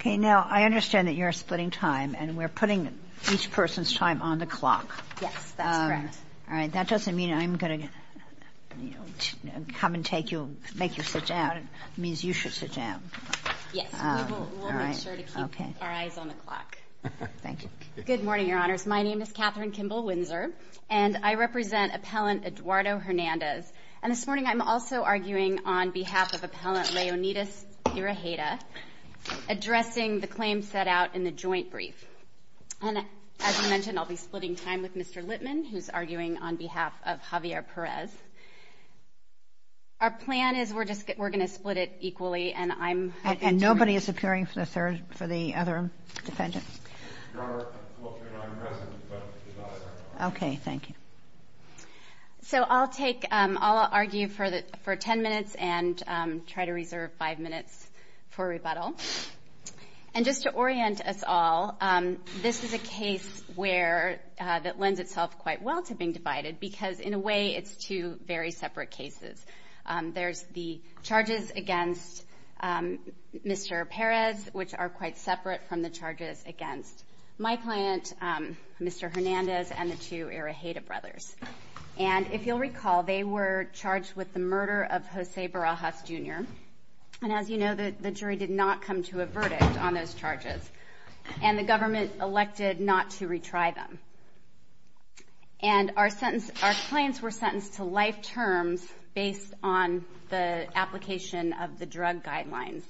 Okay, now I understand that you're splitting time and we're putting each person's time on the clock. Yes, correct. All right, that doesn't mean I'm going to come and take you, make you sit down, it means you should sit down. Yes. All right. We'll make sure to keep our eyes on the clock. Thank you. Good morning, Your Honors. My name is Katherine Kimball Windsor and I represent Appellant Eduardo Hernandez. And this morning, I'm also arguing on behalf of Appellant Leonidas Tirajeda, addressing the claims set out in the joint brief. And as I mentioned, I'll be splitting time with Mr. Lippman, who's arguing on behalf of Javier Perez. Our plan is we're going to split it equally and I'm... And nobody is appearing for the third, for the other defendants. Your Honor, I'm talking on behalf of Mr. Perez, he's not a defendant. Okay, thank you. So I'll take, I'll argue for 10 minutes and try to reserve five minutes for rebuttal. And just to orient us all, this is a case where, that lends itself quite well to being divided because in a way, it's two very separate cases. There's the charges against Mr. Perez, which are quite separate from the charges against my client, Mr. Hernandez, and the two Tirajeda brothers. And if you'll recall, they were charged with the murder of Jose Barajas, Jr. And as you know, the jury did not come to a verdict on those charges and the government elected not to retry them. And our sentence, our clients were sentenced to life terms based on the application of the drug guidelines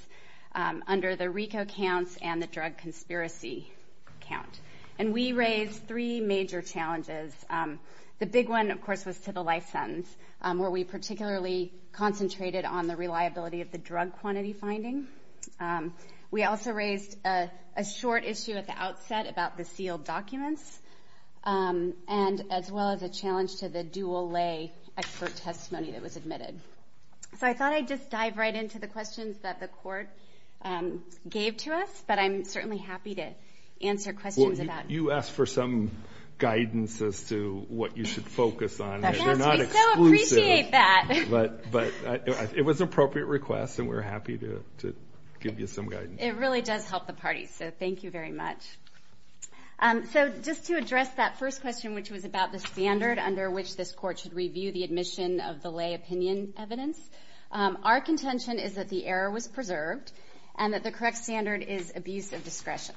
under the RICO count and the drug conspiracy count. And we raised three major challenges. The big one, of course, was to the life sentence where we particularly concentrated on the reliability of the drug quantity finding. We also raised a short issue at the outset about the sealed documents and as well as a challenge to the dual lay expert testimony that was admitted. So I thought I'd just dive right into the questions that the court gave to us, but I'm certainly happy to answer questions about it. You asked for some guidance as to what you should focus on. They're not exclusive. I so appreciate that. But it was an appropriate request and we're happy to give you some guidance. It really does help the party, so thank you very much. So just to address that first question, which was about the standard under which this court should review the admission of the lay opinion evidence, our contention is that the error was preserved and that the correct standard is abuse of discretion.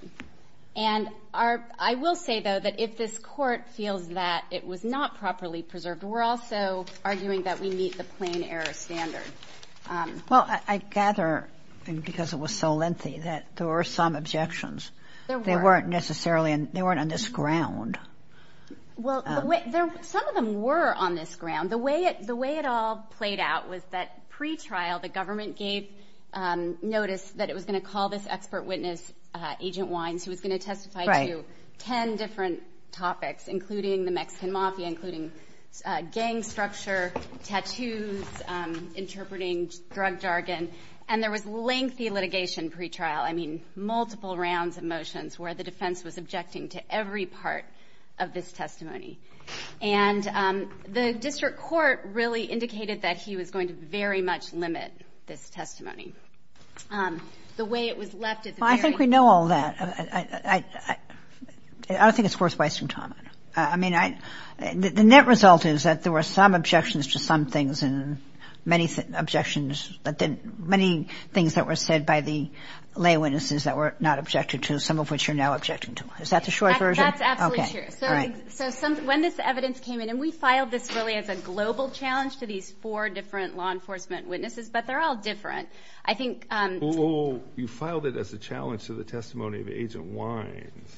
And I will say, though, that if this court feels that it was not properly preserved, we're also arguing that we meet the plain error standard. Well, I gather, because it was so lengthy, that there were some objections. There weren't. They weren't necessarily on this ground. Well, some of them were on this ground. The way it all played out was that pretrial, the government gave notice that it was going to call this expert witness, Agent Wines, who was going to testify to 10 different topics, including the Mexican mafia, including gang structure, tattoos, interpreting drug jargon. And there was lengthy litigation pretrial, I mean, multiple rounds of motions where the of this testimony. And the district court really indicated that he was going to very much limit this testimony. The way it was left, it's a very... Well, I think we know all that. I don't think it's forthright to comment. I mean, the net result is that there were some objections to some things and many objections, but then many things that were said by the lay witnesses that were not objected to, some of which are now objected to. Is that the short version? That's absolutely true. So when this evidence came in, and we filed this really as a global challenge to these four different law enforcement witnesses, but they're all different. I think... Oh, you filed it as a challenge to the testimony of Agent Wines.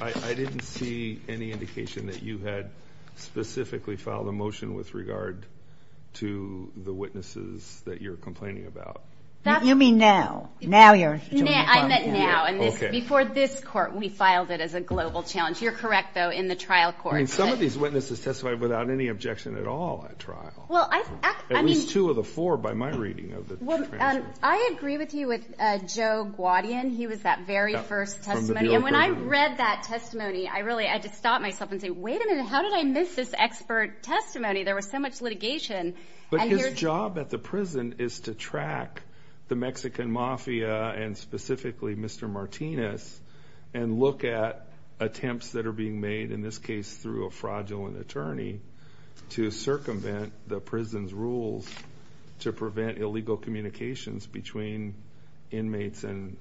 I didn't see any indication that you had specifically filed a motion with regard to the witnesses that you're complaining about. You mean now? Now you're... I meant now. Okay. Before this court, we filed it as a global challenge. You're correct, though, in the trial court. I mean, some of these witnesses testified without any objection at all at trial. Well, I mean... At least two of the four by my reading of the testimony. I agree with you with Joe Guadian. He was that very first testimony, and when I read that testimony, I really, I just stopped myself and said, wait a minute. How did I miss this expert testimony? There was so much litigation, and here... The job at the prison is to track the Mexican Mafia, and specifically Mr. Martinez, and look at attempts that are being made, in this case through a fraudulent attorney, to circumvent the prison's rules to prevent illegal communications between inmates and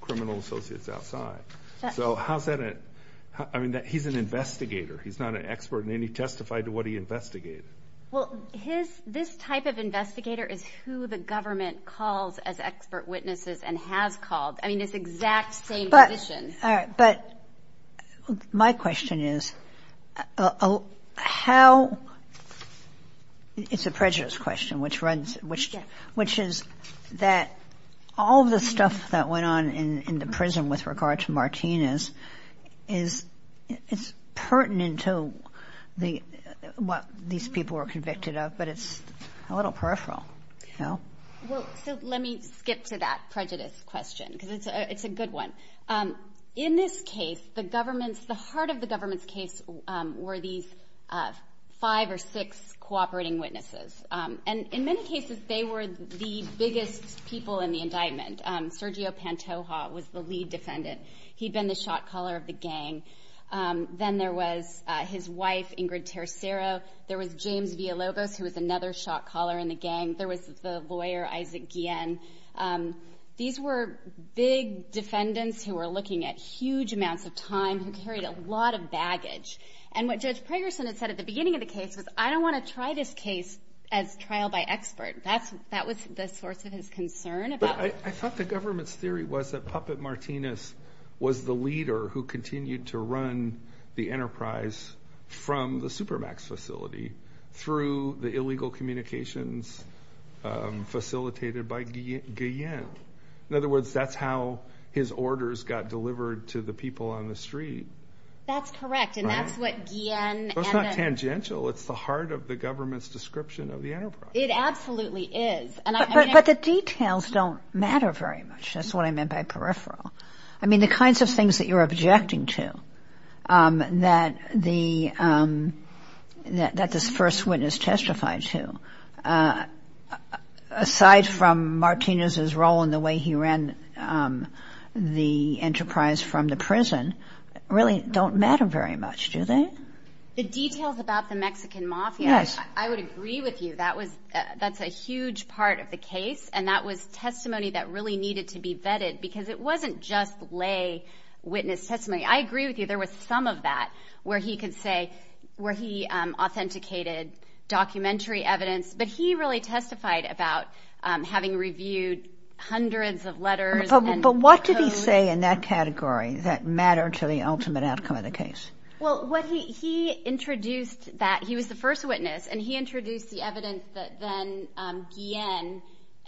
criminal associates outside. So how's that... I mean, he's an investigator. He's not an expert in any testified to what he investigated. Well, his... This type of investigator is who the government calls as expert witnesses, and has called. I mean, it's exact same position. All right, but my question is, how... It's a prejudiced question, which is that all the stuff that went on in the prison with regard to Martinez is pertinent to what these people were convicted of, but it's a little peripheral. Well, so let me get to that prejudice question, because it's a good one. In this case, the government's... The heart of the government's case were these five or six cooperating witnesses, and in many cases, they were the biggest people in the indictment. First, Sergio Pantoja was the lead defendant. He'd been the shot caller of the gang. Then there was his wife, Ingrid Tercero. There was James Villalobos, who was another shot caller in the gang. There was the lawyer, Isaac Guillen. These were big defendants who were looking at huge amounts of time, who carried a lot of baggage. And what Judge Pregerson had said at the beginning of the case was, I don't want to try this case as trial by expert. That was the source of his concern about... I thought the government's theory was that Puppet Martinez was the leader who continued to run the enterprise from the Supermax facility, through the illegal communications facilitated by Guillen. In other words, that's how his orders got delivered to the people on the street. That's correct, and that's what Guillen and... It's not tangential. It's the heart of the government's description of the enterprise. It absolutely is. But the details don't matter very much, that's what I meant by peripheral. The kinds of things that you're objecting to, that the first witness testified to, aside from Martinez's role in the way he ran the enterprise from the prison, really don't matter very much, do they? The details about the Mexican mafia, I would agree with you. That's a huge part of the case, and that was testimony that really needed to be vetted, because it wasn't just lay witness testimony. I agree with you. There was some of that where he authenticated documentary evidence, but he really testified about having reviewed hundreds of letters and... What did he say in that category that mattered to the ultimate outcome of the case? Well, he introduced that... He was the first witness, and he introduced the evidence that then Guillen...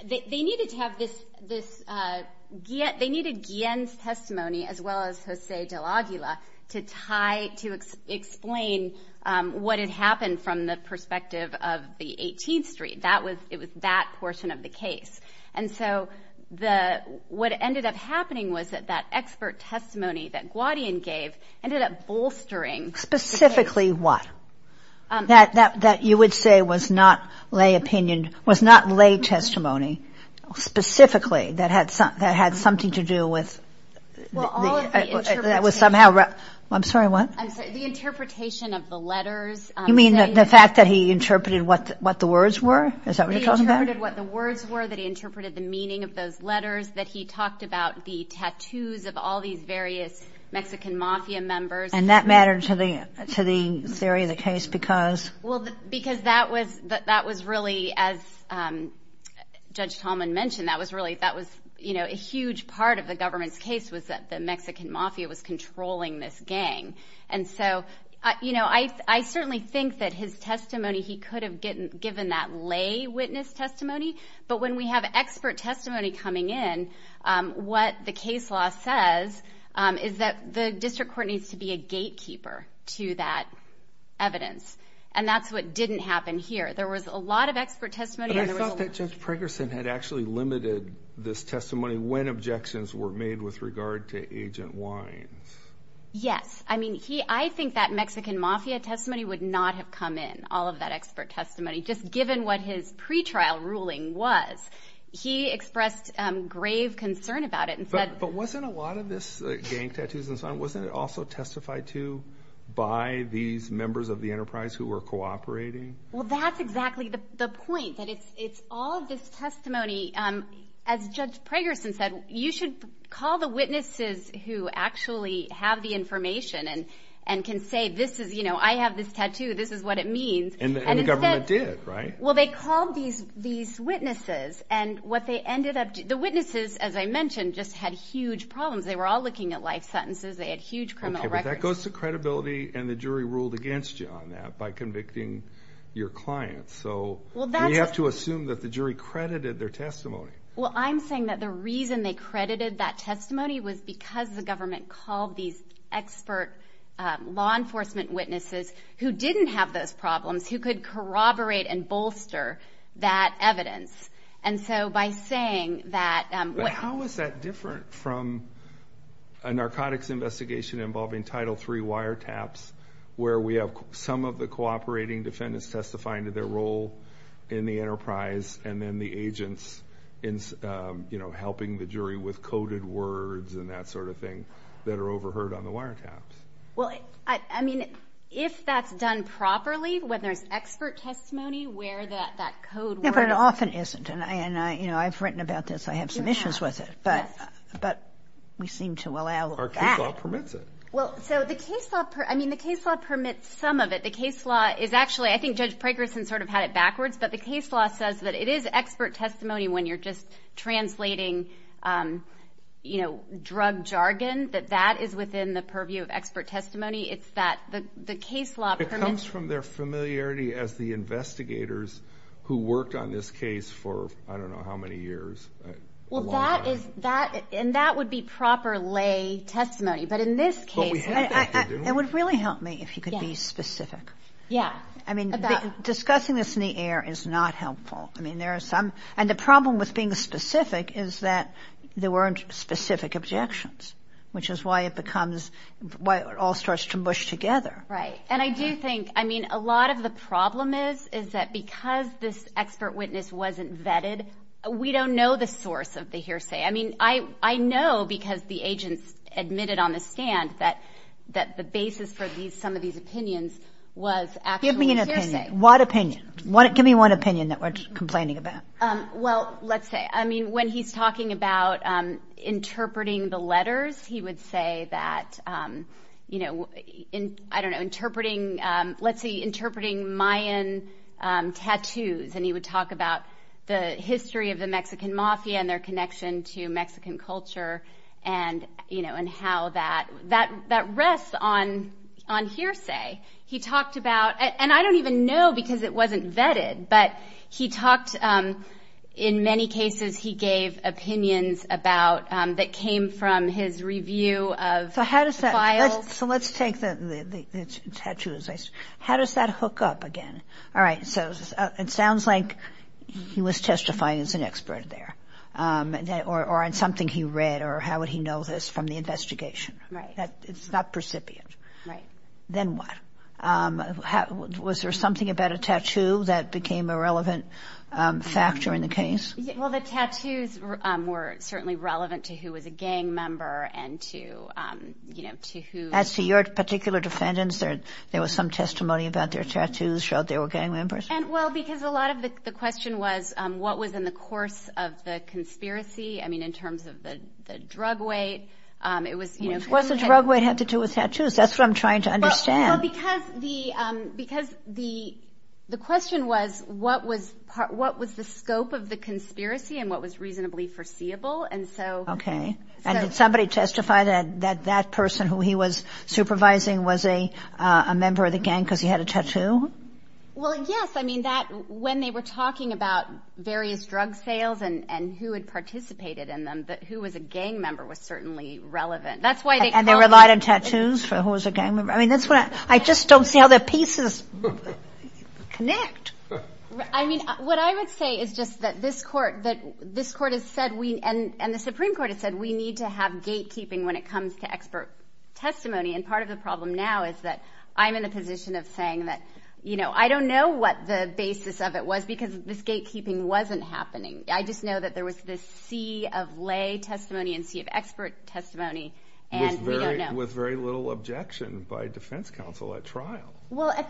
They needed Guillen's testimony, as well as Jose De La Aguila, to tie, to explain what had happened from the perspective of the 18th Street. It was that portion of the case. And so what ended up happening was that that expert testimony that Guadian gave ended up Specifically what? That you would say was not lay testimony, specifically, that had something to do with... Well, all of the interpretation... I'm sorry, what? The interpretation of the letters... You mean the fact that he interpreted what the words were? Is that what you're talking about? He interpreted what the words were, that he interpreted the meaning of those letters, that he talked about the tattoos of all these various Mexican mafia members. And that mattered to the theory of the case because... Well, because that was really, as Judge Tallman mentioned, that was a huge part of the government's case was that the Mexican mafia was controlling this gang. And so I certainly think that his testimony, he could have given that lay witness testimony, but when we have expert testimony coming in, what the case law says is that the district court needs to be a gatekeeper to that evidence. And that's what didn't happen here. There was a lot of expert testimony... But I thought that Judge Pregerson had actually limited this testimony when objections were made with regard to Agent Wine. Yes. I mean, I think that Mexican mafia testimony would not have come in, all of that expert testimony, just given what his pretrial ruling was. He expressed grave concern about it and said... But wasn't a lot of this gang tattoos and so on, wasn't it also testified to by these members of the enterprise who were cooperating? Well, that's exactly the point, that it's all this testimony. As Judge Pregerson said, you should call the witnesses who actually have the information and can say, I have this tattoo, this is what it means. And the government did, right? Well, they called these witnesses and what they ended up... The witnesses, as I mentioned, just had huge problems. They were all looking at life sentences. They had huge criminal records. Okay, but that goes to credibility and the jury ruled against you on that by convicting your clients. So we have to assume that the jury credited their testimony. Well, I'm saying that the reason they credited that testimony was because the government called these expert law enforcement witnesses who didn't have those problems, who could corroborate and bolster that evidence. And so by saying that... But how is that different from a narcotics investigation involving Title III wiretaps, where we have some of the cooperating defendants testifying to their role in the enterprise and then the agents helping the jury with coded words and that sort of thing that are overheard on the wiretaps? Well, I mean, if that's done properly, whether it's expert testimony where that code... No, but it often isn't. And I've written about this. I have some issues with it, but we seem to allow that. Our case law permits it. Well, so the case law... I mean, the case law permits some of it. The case law is actually... I think Judge Pregerson sort of had it backwards, but the case law says that it is expert testimony when you're just translating drug jargon, that that is within the purview of expert testimony. It's that the case law... It comes from their familiarity as the investigators who worked on this case for, I don't know, how many years? A long time. Well, that is... And that would be proper lay testimony. But in this case... But we had this, didn't we? It would really help me if you could be specific. Yeah. I mean, discussing this in the air is not helpful. I mean, there are some... And the problem with being specific is that there weren't specific objections, which is why it becomes... Why it all starts to mush together. Right. And I do think, I mean, a lot of the problem is that because this expert witness wasn't vetted, we don't know the source of the hearsay. I mean, I know because the agents admitted on the stand that the basis for some of these opinions was actually hearsay. Give me an opinion. What opinion? Give me one opinion that we're complaining about. Well, let's say, I mean, when he's talking about interpreting the letters, he would say that, you know, I don't know, interpreting... Let's see, interpreting Mayan tattoos. And he would talk about the history of the Mexican mafia and their connection to Mexican culture. And, you know, and how that rests on hearsay. He talked about... And I don't even know because it wasn't vetted. But he talked... In many cases, he gave opinions about... That came from his review of files. So how does that... So let's take the tattoos. How does that hook up again? All right. So it sounds like he was testifying as an expert there or on something he read. Or how would he know this from the investigation? Right. It's not precipient. Right. Then what? Was there something about a tattoo that became a relevant factor in the case? Well, the tattoos were certainly relevant to who was a gang member and to, you know, to who... As to your particular defendants, there was some testimony about their tattoos showed they were gang members? Well, because a lot of the question was, what was in the course of the conspiracy? I mean, in terms of the drug weight, it was... What the drug weight had to do with tattoos. That's what I'm trying to understand. Well, because the question was, what was the scope of the conspiracy and what was reasonably foreseeable? And so... Okay. And did somebody testify that that person who he was supervising was a member of the gang because he had a tattoo? Well, yes. I mean, when they were talking about various drug sales and who had participated in them, that who was a gang member was certainly relevant. And they relied on tattoos for who was a gang member? I mean, that's what... I just don't see how the pieces connect. I mean, what I would say is just that this court has said we... And the Supreme Court has said we need to have gatekeeping when it comes to expert testimony. And part of the problem now is that I'm in a position of saying that, you know, I don't know what the basis of it was because this gatekeeping wasn't happening. I just know that there was this sea of lay testimony and sea of expert testimony. And we don't know. With very little objection by defense counsel at trial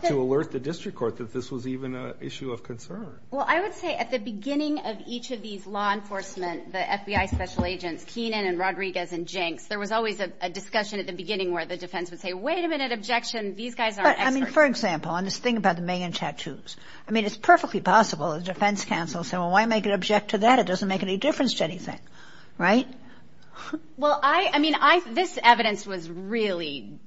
to alert the district court that this was even an issue of concern. Well, I would say at the beginning of each of these law enforcement, the FBI special agents, Keenan and Rodriguez and Jenks, there was always a discussion at the beginning where the defense would say, wait a minute, objection. These guys are experts. I mean, for example, I'm just thinking about the Maynard tattoos. I mean, it's perfectly possible the defense counsel said, well, why make an object to that? It doesn't make any difference to anything. Right? Well, I, I mean, I, this evidence was really.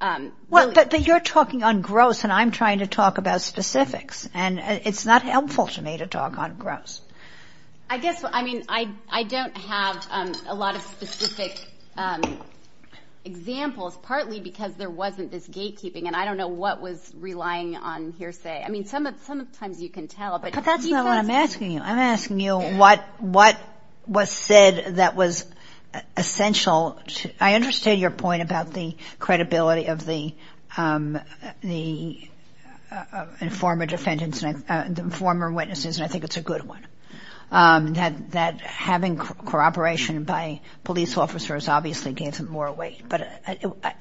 Well, but you're talking on gross and I'm trying to talk about specifics and it's not helpful to me to talk on gross. I guess. I mean, I, I don't have a lot of specific examples, partly because there wasn't this gatekeeping and I don't know what was relying on hearsay. I mean, some of, some of the times you can tell. But that's what I'm asking you. I'm asking you what, what was said that was essential. I understand your point about the credibility of the, the former defendants and the former witnesses. And I think it's a good one that, that having cooperation by police officers obviously gave him more weight, but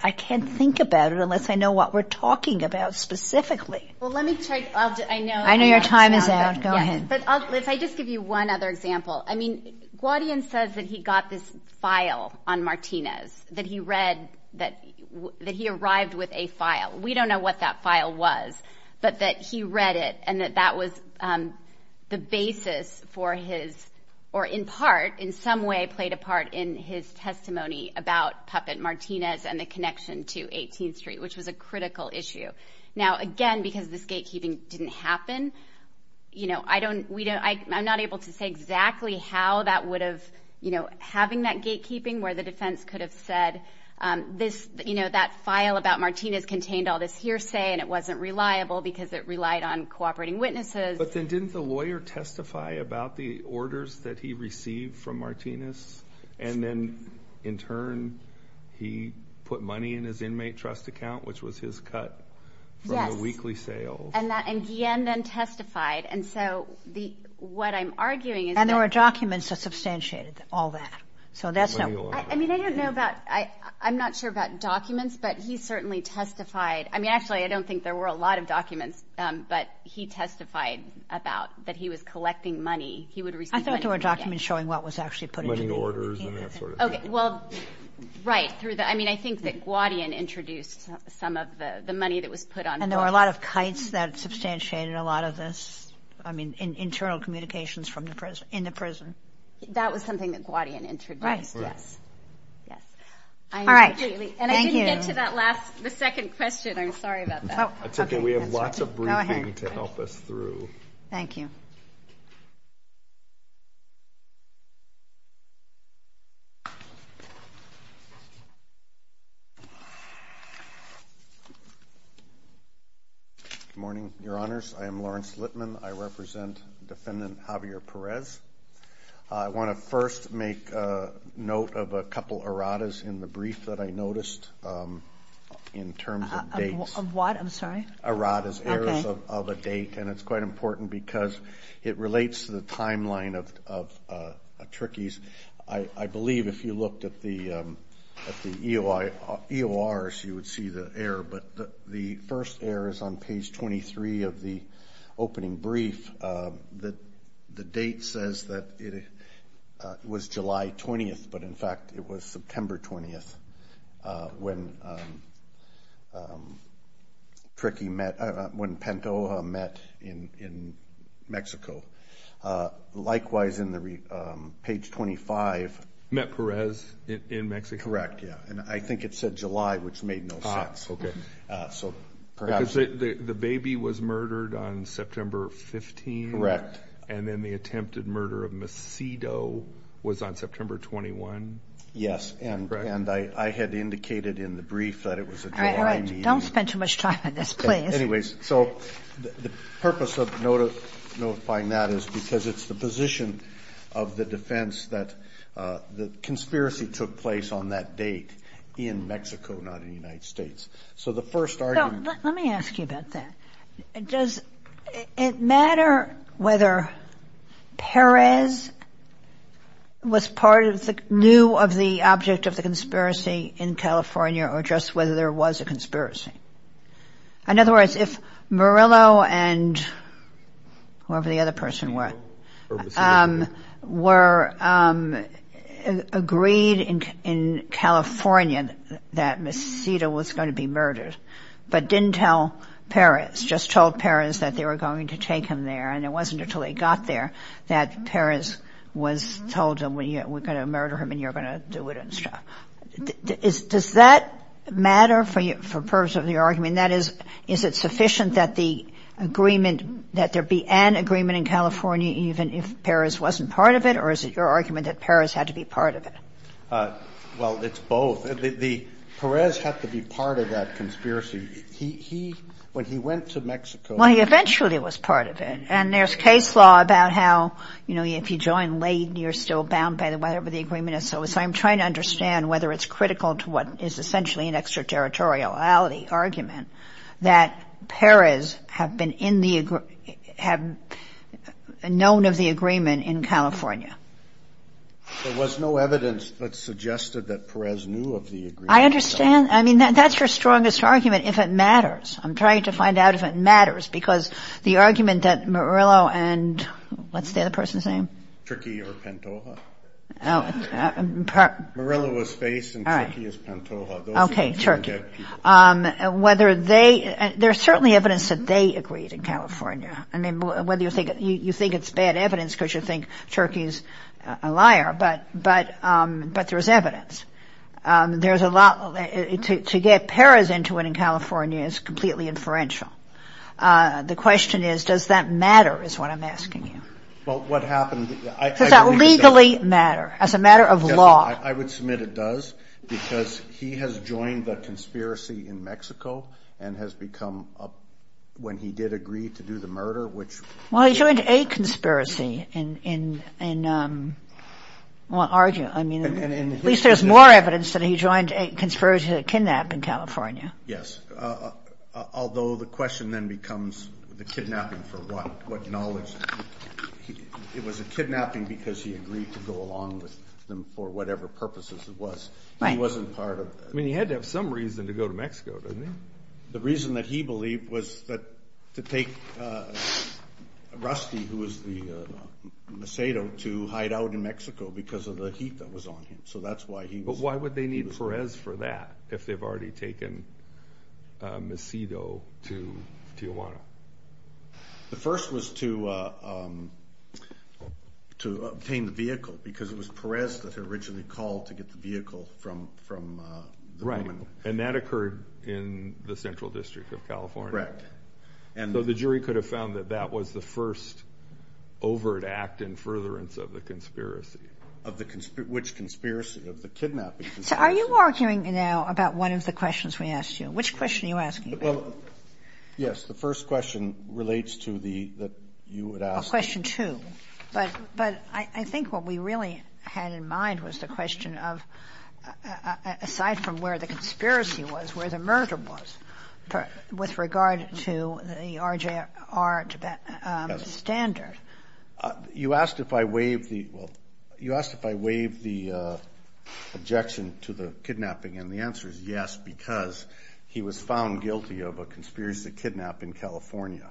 I can't think about it unless I know what we're talking about specifically. Well, let me check. I know. I know your time is out. Go ahead. Go ahead. But also, if I just give you one other example, I mean, Guadian says that he got this file on Martinez, that he read that, that he arrived with a file. We don't know what that file was, but that he read it and that that was the basis for his, or in part, in some way played a part in his testimony about Puppet Martinez and the connection to 18th Street, which was a critical issue. Now, again, because this gatekeeping didn't happen, you know, I don't, we don't, I'm not able to say exactly how that would have, you know, having that gatekeeping where the defense could have said this, you know, that file about Martinez contained all this hearsay and it wasn't reliable because it relied on cooperating witnesses. But then didn't the lawyer testify about the orders that he received from Martinez? And then, in turn, he put money in his inmate trust account, which was his cut from the weekly sale. And that, and Guadian then testified, and so the, what I'm arguing is that... And there were documents that substantiated all that. So that's how... I mean, I don't know about, I'm not sure about documents, but he certainly testified. I mean, actually, I don't think there were a lot of documents, but he testified about, that he was collecting money. He would receive money. I thought there were documents showing what was actually put into the... Money orders and that sort of thing. Okay. Well, right. Through the, I mean, I think that Guadian introduced some of the, the money that was put on... And there were a lot of kites that substantiated a lot of this. I mean, internal communications from the prison, in the prison. That was something that Guadian introduced. Right. Right. Yes. All right. Thank you. And I didn't get to that last, the second question. I'm sorry about that. It's okay. We have lots of briefing to help us through. Thank you. Good morning, your honors. I am Lawrence Lipman. I represent Defendant Javier Perez. I want to first make a note of a couple of erratas in the brief that I noticed in terms of dates. Of what? I'm sorry. Erratas. Erratas of a date. And it's quite important because it relates to the timeline of, of, of Tricky's. I believe if you looked at the, at the EORs, you would see the error, but the first error is on page 23 of the opening brief that the date says that it was July 20th, but in fact it was September 20th when Tricky met, when Pantoja met in, in Mexico. Likewise in the page 25. Met Perez in Mexico? Correct. Yeah. And I think it said July, which made no sense. Ah. Okay. So perhaps. The baby was murdered on September 15th? Correct. And then the attempted murder of Macedo was on September 21? Yes. And, and I, I had indicated in the brief that it was a July meeting. All right, all right. Don't spend too much time on this. Please. Anyways. So the, the purpose of notice, notifying that is because it's the position of the defense that the conspiracy took place on that date in Mexico, not in the United States. So the first argument. Now, let, let me ask you about that. Does it matter whether Perez was part of the, knew of the object of the conspiracy in California or just whether there was a conspiracy? In other words, if Murillo and whoever the other person was, were agreed in, in California that Macedo was going to be murdered, but didn't tell Perez, just told Perez that they were going to take him there and it wasn't until he got there that Perez was told him, we're going to murder him and you're going to do it and stuff. Does that matter for you, for purpose of the argument? That is, is it sufficient that the agreement, that there be an agreement in California, even if Perez wasn't part of it, or is it your argument that Perez had to be part of it? Well, it's both. Perez had to be part of that conspiracy. He, when he went to Mexico. Well, he eventually was part of it. And there's case law about how, you know, if you join late, you're still bound by whatever the agreement is. So I'm trying to understand whether it's critical to what is essentially an extraterritoriality There was no evidence that suggested that Perez knew of the agreement. I understand. I mean, that's your strongest argument, if it matters. I'm trying to find out if it matters, because the argument that Murillo and, what's the other person's name? Turki or Pantoja. Murillo was face and Turki is Pantoja. Okay, Turki. Whether they, there's certainly evidence that they agreed in California. You think it's bad evidence because you think Turki is a liar, but there's evidence. There's a lot, to get Perez into it in California is completely inferential. The question is, does that matter is what I'm asking you? Well, what happened? Does that legally matter as a matter of law? I would submit it does, because he has joined the conspiracy in Mexico and has become, when he did agree to do the murder, which. Well, he joined a conspiracy in, well, argue. I mean, at least there's more evidence that he joined a conspiracy to kidnap in California. Yes. Although the question then becomes the kidnapping for what, what knowledge. It was a kidnapping because he agreed to go along with them for whatever purposes it was. He wasn't part of it. I mean, he had to have some reason to go to Mexico, didn't he? The reason that he believed was that to take Rusty, who was the Macedo to hide out in Mexico because of the heat that was on him. So that's why he. But why would they need Perez for that if they've already taken Macedo to Tijuana? The first was to, to obtain the vehicle because it was Perez that originally called to get the vehicle from, from. Right. And that occurred in the central district of California. Right. And so the jury could have found that that was the first overt act in furtherance of the conspiracy. Of the, which conspiracy of the kidnapping. Are you arguing now about one of the questions we asked you? Which question are you asking? Yes. The first question relates to the, you would ask. Question two. But I think what we really had in mind was the question of, aside from where the conspiracy was, where the murder was, with regard to the RJR standard. You asked if I waived the, you asked if I waived the objection to the kidnapping. And the answer is yes, because he was found guilty of a conspiracy to kidnap in California.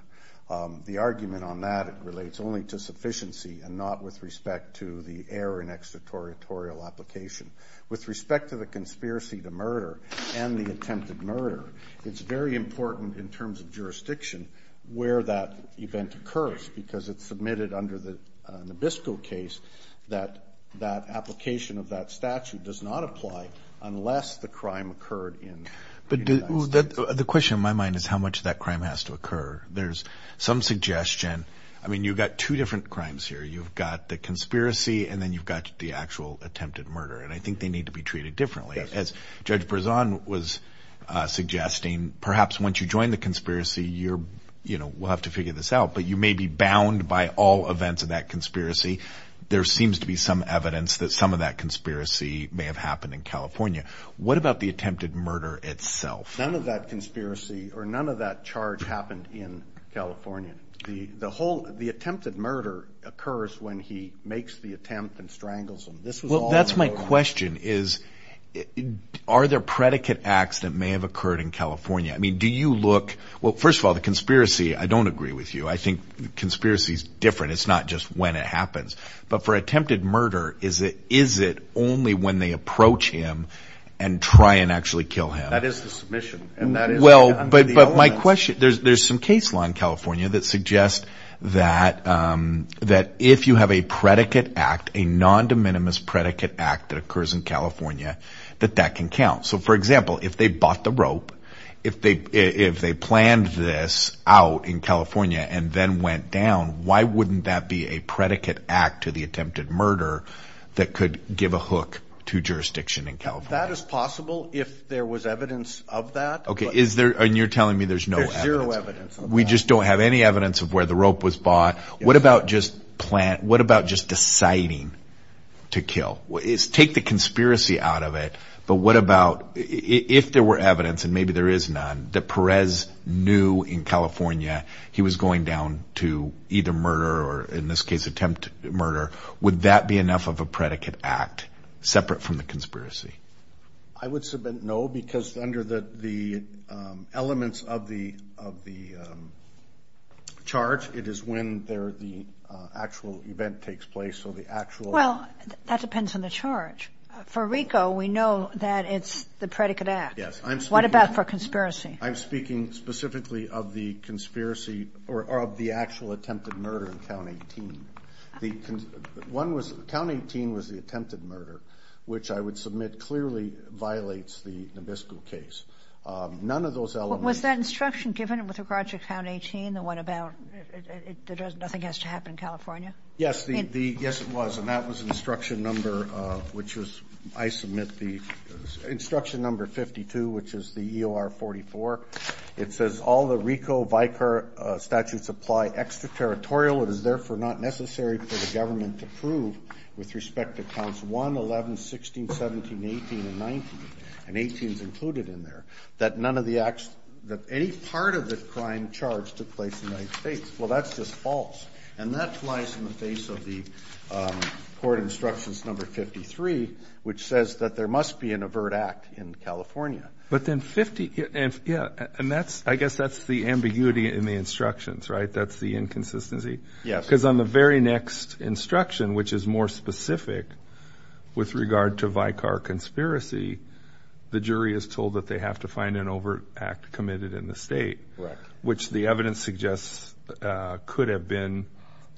The argument on that relates only to sufficiency and not with respect to the error in extraterritorial application. With respect to the conspiracy to murder and the attempted murder, it's very important in terms of jurisdiction where that event occurs because it's admitted under the Nabisco case that that application of that statute does not apply unless the crime occurred in. The question in my mind is how much that crime has to occur. There's some suggestion. I mean, you've got two different crimes here. You've got the conspiracy and then you've got the actual attempted murder. And I think they need to be treated differently. As Judge Berzon was suggesting, perhaps once you join the conspiracy, you're, you know, we'll have to figure this out, but you may be bound by all events of that conspiracy. There seems to be some evidence that some of that conspiracy may have happened in California. What about the attempted murder itself? None of that conspiracy or none of that charge happened in California. The whole, the attempted murder occurs when he makes the attempt and strangles him. Well, that's my question is, are there predicate acts that may have occurred in California? I mean, do you look, well, first of all, the conspiracy, I don't agree with you. I think conspiracy is different. It's not just when it happens. But for attempted murder, is it only when they approach him and try and actually kill him? That is the submission. Well, but my question, there's some case law in California that suggests that if you have a predicate act, a non-de minimis predicate act that occurs in California, that that can count. So, for example, if they bought the rope, if they planned this out in California and then went down, why wouldn't that be a predicate act to the attempted murder that could give a hook to jurisdiction in California? That is possible if there was evidence of that. Okay, and you're telling me there's no evidence. There's zero evidence. We just don't have any evidence of where the rope was bought. What about just deciding to kill? Take the conspiracy out of it, but what about if there were evidence, and maybe there is none, that Perez knew in California he was going down to either murder or, in this case, attempted murder, would that be enough of a predicate act separate from the conspiracy? I would submit no, because under the elements of the chart, it is when the actual event takes place. Well, that depends on the chart. For RICO, we know that it's the predicate act. What about for conspiracy? I'm speaking specifically of the conspiracy or of the actual attempted murder in County 18. County 18 was the attempted murder, which I would submit clearly violates the Nabisco case. Was that instruction given with regard to County 18, the one about nothing has to happen in California? Yes, it was, and that was instruction number 52, which is the EOR 44. It says, all the RICO-VICAR statutes apply extraterritorial. It is therefore not necessary for the government to prove with respect to Counts 1, 11, 16, 17, 18, and 19, and 18 is included in there, that any part of the crime charge took place in those states. Well, that's just false, and that's why it's in the face of the court instructions number 53, which says that there must be an overt act in California. But then, I guess that's the ambiguity in the instructions, right? That's the inconsistency? Yes. Because on the very next instruction, which is more specific with regard to VICAR conspiracy, the jury is told that they have to find an overt act committed in the state, which the evidence suggests could have been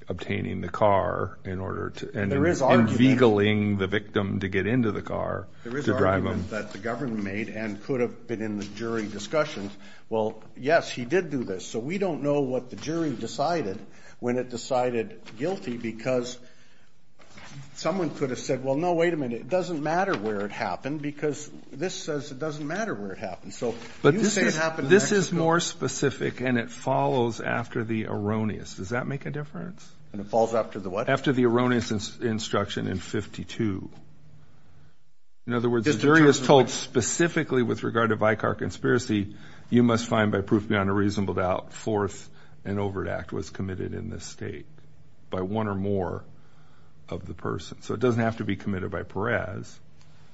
obtaining the car and un-veigling the victim to get into the car to drive them. There is argument that the government made and could have been in the jury discussions. Well, yes, he did do this, so we don't know what the jury decided when it decided guilty, because someone could have said, well, no, wait a minute, it doesn't matter where it happened, because this says it doesn't matter where it happened. But this is more specific, and it follows after the erroneous. Does that make a difference? It falls after the what? After the erroneous instruction in 52. In other words, the jury was told specifically with regard to VICAR conspiracy, you must find by proof beyond a reasonable doubt, fourth, an overt act was committed in the state by one or more of the persons. So it doesn't have to be committed by Perez.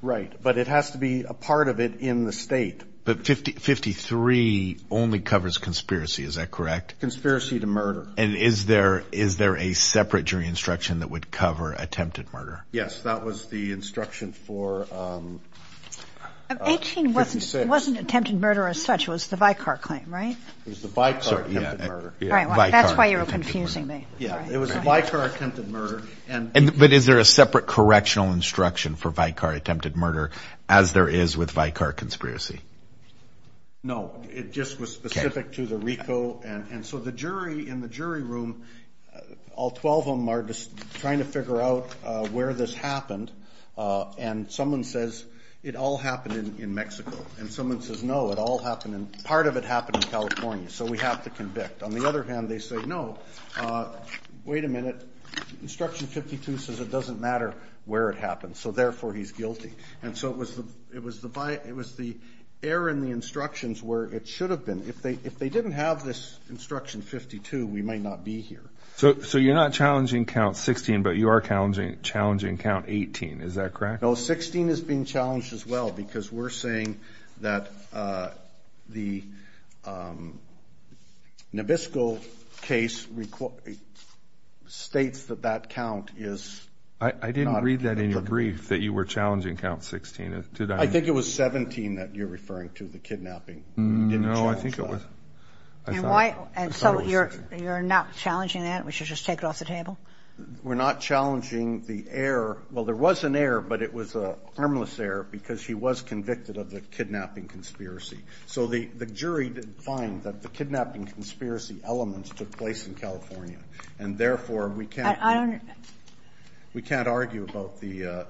Right, but it has to be a part of it in the state. But 53 only covers conspiracy, is that correct? Conspiracy to murder. And is there a separate jury instruction that would cover attempted murder? Yes, that was the instruction for 56. It wasn't attempted murder as such, it was the VICAR claim, right? It was the VICAR attempted murder. That's why you were confusing me. It was the VICAR attempted murder. But is there a separate correctional instruction for VICAR attempted murder, as there is with VICAR conspiracy? No, it just was specific to the RICO. And so the jury in the jury room, all 12 of them are just trying to figure out where this happened, and someone says it all happened in Mexico. And someone says, no, part of it happened in California, so we have to convict. On the other hand, they say, no, wait a minute, instruction 52 says it doesn't matter where it happened, so therefore he's guilty. And so it was the error in the instructions where it should have been. If they didn't have this instruction 52, we might not be here. So you're not challenging count 16, but you are challenging count 18, is that correct? No, 16 is being challenged as well, because we're saying that the Nabisco case states that that count is... I didn't read that in your brief, that you were challenging count 16. I think it was 17 that you're referring to, the kidnapping. No, I think it was... And so you're not challenging that? We should just take it off the table? We're not challenging the error. Well, there was an error, but it was a harmless error, because he was convicted of the kidnapping conspiracy. So the jury didn't find that the kidnapping conspiracy elements took place in California, and therefore we can't argue about the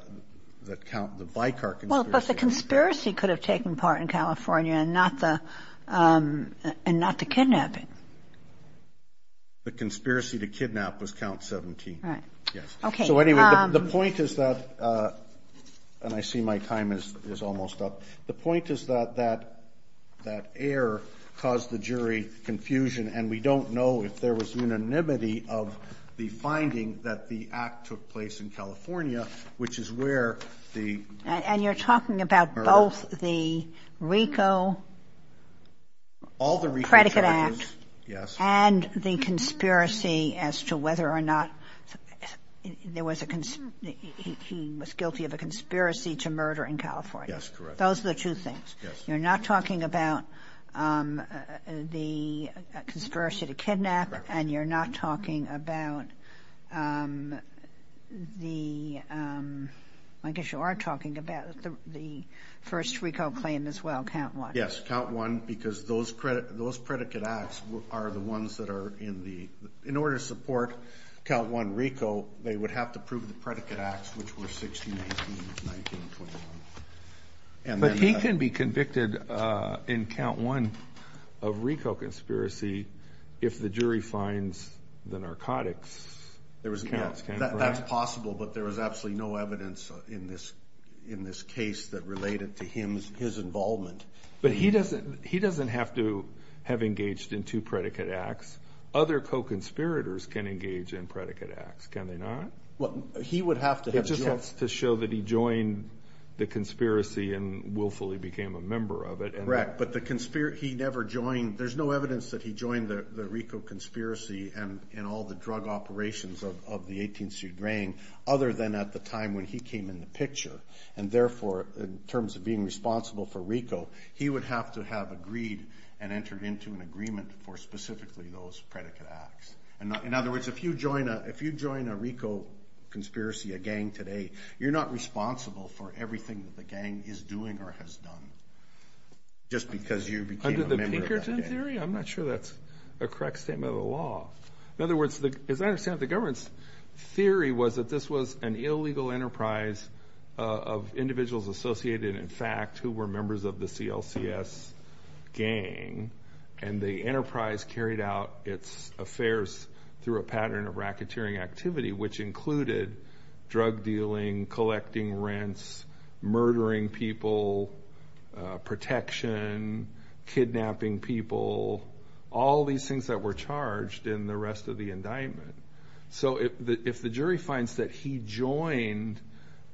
bicar conspiracy. Well, but the conspiracy could have taken part in California, and not the kidnapping. The conspiracy to kidnap was count 17. So anyway, the point is that, and I see my time is almost up, the point is that that error caused the jury confusion, and we don't know if there was unanimity of the finding that the act took place in California, which is where the... And the conspiracy as to whether or not there was a... He was guilty of a conspiracy to murder in California. Yes, correct. Those are the two things. You're not talking about the conspiracy to kidnap, and you're not talking about the... I guess you are talking about the first RICO claim as well, count one. Yes, count one, because those predicate acts are the ones that are in the... In order to support count one RICO, they would have to prove the predicate acts, which were 16 and 19. But he can be convicted in count one of RICO conspiracy if the jury finds the narcotics. That's possible, but there was absolutely no evidence in this case that related to his involvement. But he doesn't have to have engaged in two predicate acts. Other co-conspirators can engage in predicate acts, can they not? Well, he would have to have... It just has to show that he joined the conspiracy and willfully became a member of it. Correct, but he never joined... There's no evidence that he joined the RICO conspiracy and all the drug operations of the 18th Street gang, other than at the time when he came in the picture. And therefore, in terms of being responsible for RICO, he would have to have agreed and entered into an agreement for specifically those predicate acts. In other words, if you join a RICO conspiracy, a gang today, you're not responsible for everything that the gang is doing or has done, just because you became a member of it. Under the Pinkerton theory? I'm not sure that's a correct statement of the law. In other words, as I understand it, the government's theory was that this was an illegal enterprise of individuals associated, in fact, who were members of the CLCS gang, and the enterprise carried out its affairs through a pattern of racketeering activity, which included drug dealing, collecting rents, murdering people, protection, kidnapping people, all these things that were charged in the rest of the indictment. So if the jury finds that he joined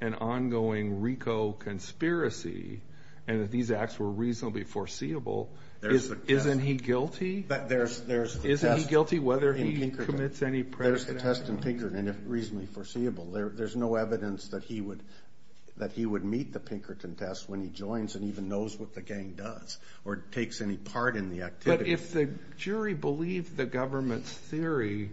an ongoing RICO conspiracy, and that these acts were reasonably foreseeable, isn't he guilty? But there's... Isn't he guilty whether he commits any predicate acts? There's a test in Pinkerton, and it's reasonably foreseeable. There's no evidence that he would meet the Pinkerton test when he joins and even knows what the gang does, or takes any part in the activity. But if the jury believed the government's theory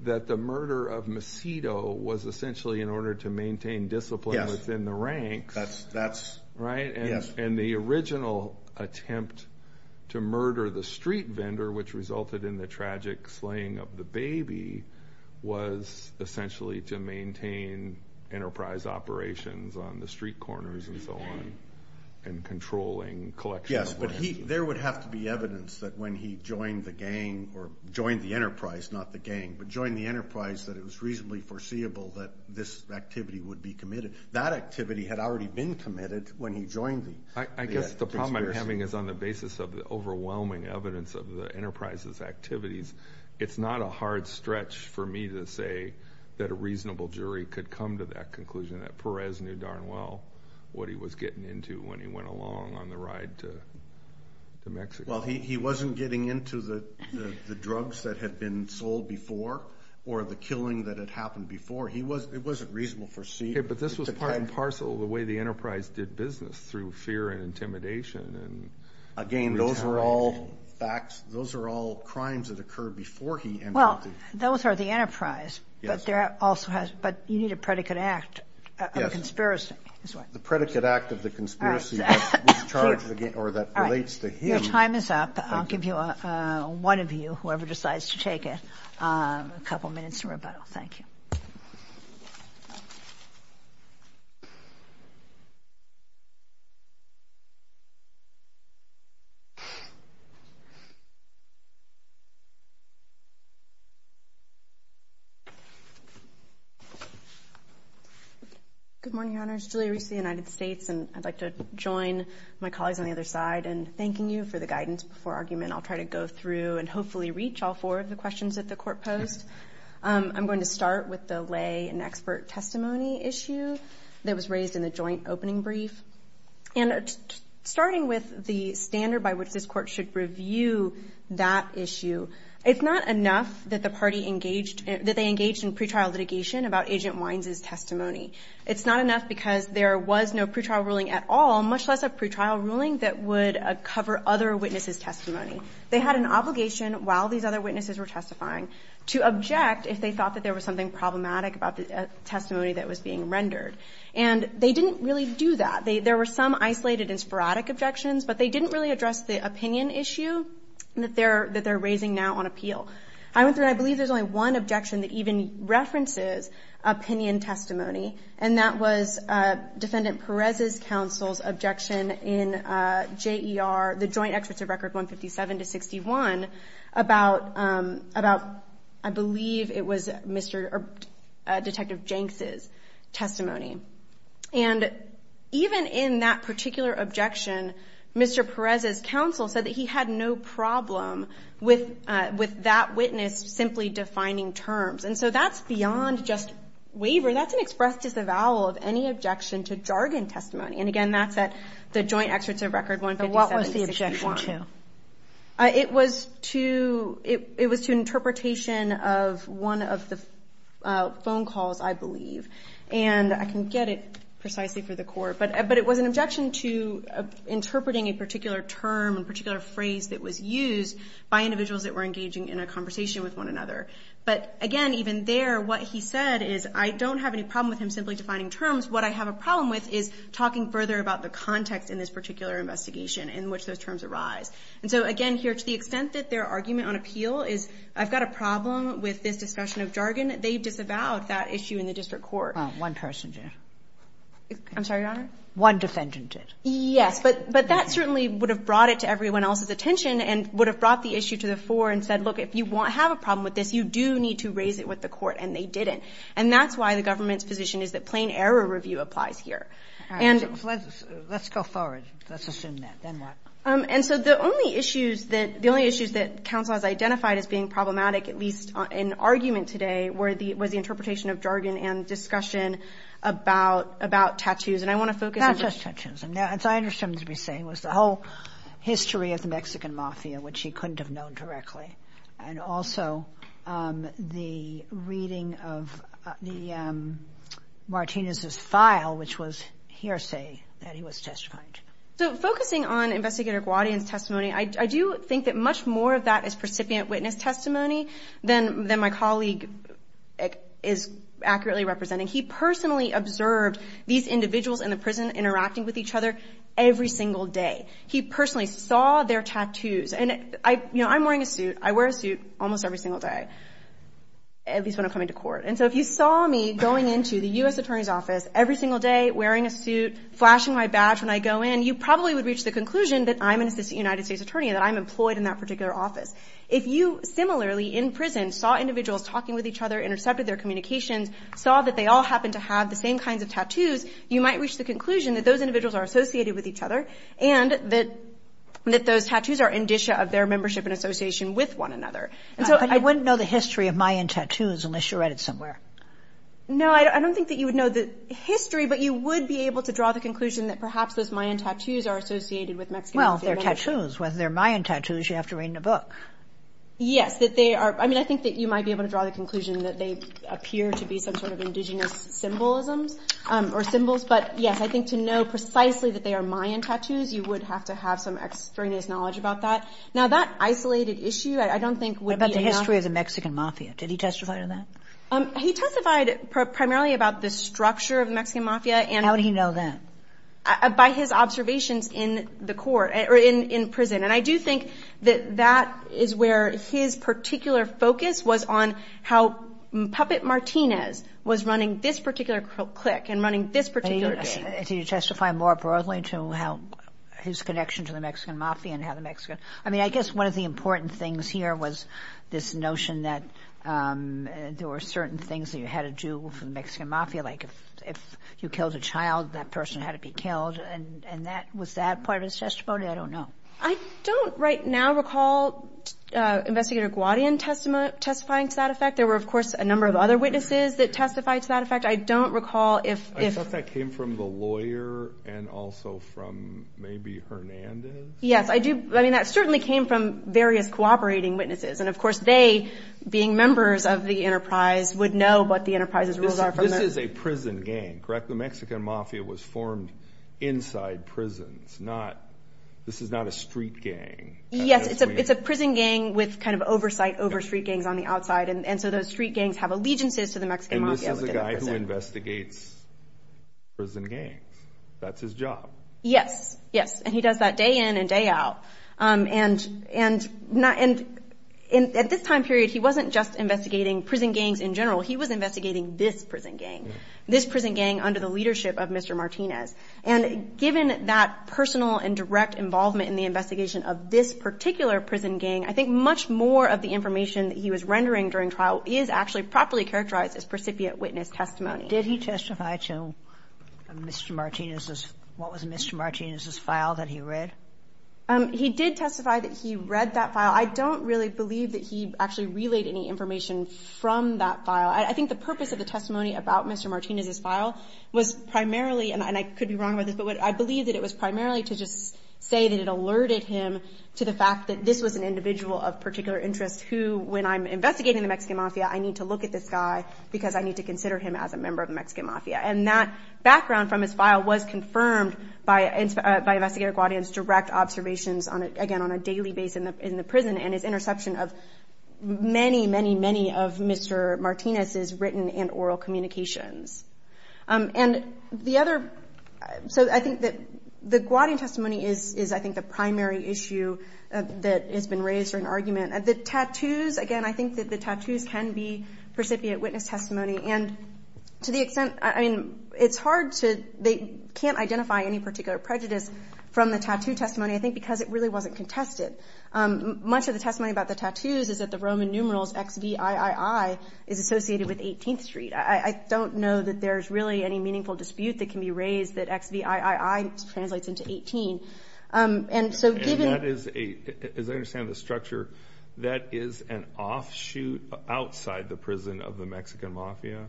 that the murder of Macedo was essentially in order to maintain discipline within the ranks... Yes. That's... Right? Yes. And the original attempt to murder the street vendor, which resulted in the tragic slaying of the baby, was essentially to maintain enterprise operations on the street corners and so on, and controlling collection of... Yes, but there would have to be evidence that when he joined the gang, or joined the enterprise, not the gang, but joined the enterprise, that it was reasonably foreseeable that this activity would be committed. That activity had already been committed when he joined the conspiracy. I guess the problem I'm having is on the basis of the overwhelming evidence of the enterprise's activities. It's not a hard stretch for me to say that a reasonable jury could come to that conclusion, that Perez knew darn well what he was getting into when he went along on the ride to Mexico. Well, he wasn't getting into the drugs that had been sold before, or the killing that had happened before. It wasn't reasonable to foresee... But this was part and parcel of the way the enterprise did business, through fear and intimidation. Again, those are all facts. Those are all crimes that occurred before he... Those are the enterprise, but you need a predicate act, a conspiracy. The predicate act of the conspiracy that relates to him... Your time is up. I'll give you one of you, whoever decides to take it, a couple of minutes to rebuttal. Thank you. Good morning, Your Honors. Julia Reese of the United States, and I'd like to join my colleagues on the other side in thanking you for the guidance before argument. I'll try to go through and hopefully reach all four of the questions that the Court posed. I'm going to start with the lay and expert testimony issue that was raised in the joint opening brief. And starting with the standard by which this Court should review that issue, it's not enough that they engaged in pretrial litigation about Agent Wines' testimony. It's not enough because there was no pretrial ruling at all, much less a pretrial ruling that would cover other witnesses' testimony. They had an obligation, while these other witnesses were testifying, to object if they thought that there was something problematic about the testimony that was being rendered. And they didn't really do that. There were some isolated and sporadic objections, but they didn't really address the opinion issue that they're raising now on appeal. I believe there's only one objection that even references opinion testimony, and that was Defendant Perez's counsel's objection in J.E.R., the Joint Excessive Records 157-61, about, I believe it was Detective Jenks' testimony. And even in that particular objection, Mr. Perez's counsel said that he had no problem with that witness simply defining terms. And so that's beyond just waiver. That's an express disavowal of any objection to jargon testimony. And again, that's at the Joint Excessive Records 157-61. So what was the objection to? It was to interpretation of one of the phone calls, I believe. And I can get it precisely for the court, but it was an objection to interpreting a particular term, a particular phrase, that was used by individuals that were engaging in a conversation with one another. But, again, even there, what he said is, I don't have any problem with him simply defining terms. What I have a problem with is talking further about the context in this particular investigation in which those terms arise. And so, again, here to the extent that their argument on appeal is, I've got a problem with this discussion of jargon, they disavowed that issue in the district court. Oh, one person did. I'm sorry, Your Honor? One defendant did. Yes. But that certainly would have brought it to everyone else's attention and would have brought the issue to the floor and said, look, if you have a problem with this, you do need to raise it with the court. And they didn't. And that's why the government's position is that plain error review applies here. Let's go forward. Let's assume that. And so the only issues that counsel has identified as being problematic, at least in argument today, were the interpretation of jargon and discussion about tattoos. And I want to focus on just tattoos. So I understand what you're saying was the whole history of the Mexican Mafia, which he couldn't have known directly, and also the reading of Martinez's file, which was hearsay that he was testifying to. So focusing on investigative audience testimony, I do think that much more of that is recipient witness testimony than my colleague is accurately representing. He personally observed these individuals in the prison interacting with each other every single day. He personally saw their tattoos. And, you know, I'm wearing a suit. I wear a suit almost every single day, at least when I'm coming to court. And so if you saw me going into the U.S. Attorney's Office every single day, wearing a suit, flashing my badge when I go in, you probably would reach the conclusion that I'm an assistant United States attorney and that I'm employed in that particular office. If you, similarly, in prison, saw individuals talking with each other, intercepted their communications, saw that they all happened to have the same kinds of tattoos, you might reach the conclusion that those individuals are associated with each other and that those tattoos are indicia of their membership and association with one another. I wouldn't know the history of Mayan tattoos unless you read it somewhere. No, I don't think that you would know the history, but you would be able to draw the conclusion that perhaps those Mayan tattoos are associated with Mexican identity. Well, they're tattoos. When they're Mayan tattoos, you have to read in a book. Yes, that they are. I mean, I think that you might be able to draw the conclusion that they appear to be some sort of indigenous symbolism or symbols. But, yes, I think to know precisely that they are Mayan tattoos, you would have to have some external knowledge about that. Now, that isolated issue I don't think would be enough. What about the history of the Mexican mafia? Did he testify to that? He testified primarily about the structure of the Mexican mafia. How did he know that? By his observations in the court, or in prison. And I do think that that is where his particular focus was on how Puppet Martinez was running this particular clique and running this particular thing. Did he testify more broadly to his connection to the Mexican mafia and how the Mexicans I mean, I guess one of the important things here was this notion that there were certain things that you had to do with the Mexican mafia. Like if you killed a child, that person had to be killed. And was that part of his testimony? I don't know. I don't right now recall Investigator Guadian testifying to that effect. There were, of course, a number of other witnesses that testified to that effect. I don't recall if I think that came from the lawyer and also from maybe Hernandez. Yes, I do. I mean, that certainly came from various cooperating witnesses. And of course, they, being members of the enterprise, would know what the enterprise's rules are. This is a prison gang, correct? The Mexican mafia was formed inside prisons. This is not a street gang. Yes, it's a prison gang with kind of oversight over street gangs on the outside. And so those street gangs have allegiances to the Mexican mafia. And this is a guy who investigates a prison gang. That's his job. Yes. And he does that day in and day out. And at this time period, he wasn't just investigating prison gangs in general. He was investigating this prison gang, this prison gang under the leadership of Mr. Martinez. And given that personal and direct involvement in the investigation of this particular prison gang, I think much more of the information he was rendering during trial is actually properly characterized as precipiate witness testimony. Did he testify to Mr. Martinez's, what was Mr. Martinez's file that he read? He did testify that he read that file. I don't really believe that he actually relayed any information from that file. I think the purpose of the testimony about Mr. Martinez's file was primarily, and I could be wrong about this, but I believe that it was primarily to just say that it alerted him to the fact that this was an individual of particular interest who, when I'm investigating the Mexican mafia, I need to look at this guy because I need to consider him as a member of the Mexican mafia. And that background from his file was confirmed by investigator Guadian's direct observations, again, on a daily basis in the prison, and his interception of many, many, many of Mr. Martinez's written and oral communications. And the other, so I think that the Guadian testimony is, I think, the primary issue that has been raised for an argument. The tattoos, again, I think that the tattoos can be recipient witness testimony, and to the extent, I mean, it's hard to, they can't identify any particular prejudice from the tattoo testimony, I think because it really wasn't contested. Much of the testimony about the tattoos is that the Roman numerals XVIII is associated with 18th Street. I don't know that there's really any meaningful dispute that can be raised that XVIII translates into 18. As I understand the structure, that is an offshoot outside the prison of the Mexican mafia?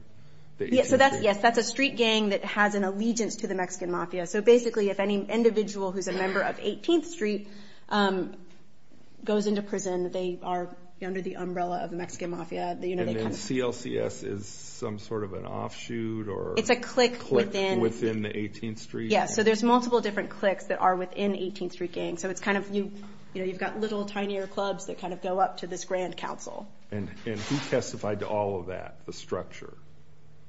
Yes, that's a street gang that has an allegiance to the Mexican mafia. So basically, if any individual who's a member of 18th Street goes into prison, they are under the umbrella of the Mexican mafia. And then CLCS is some sort of an offshoot or click within the 18th Street? Yes, so there's multiple different clicks that are within the 18th Street gang. So it's kind of, you know, you've got little, tinier clubs that kind of go up to this grand council. And who testified to all of that, the structure?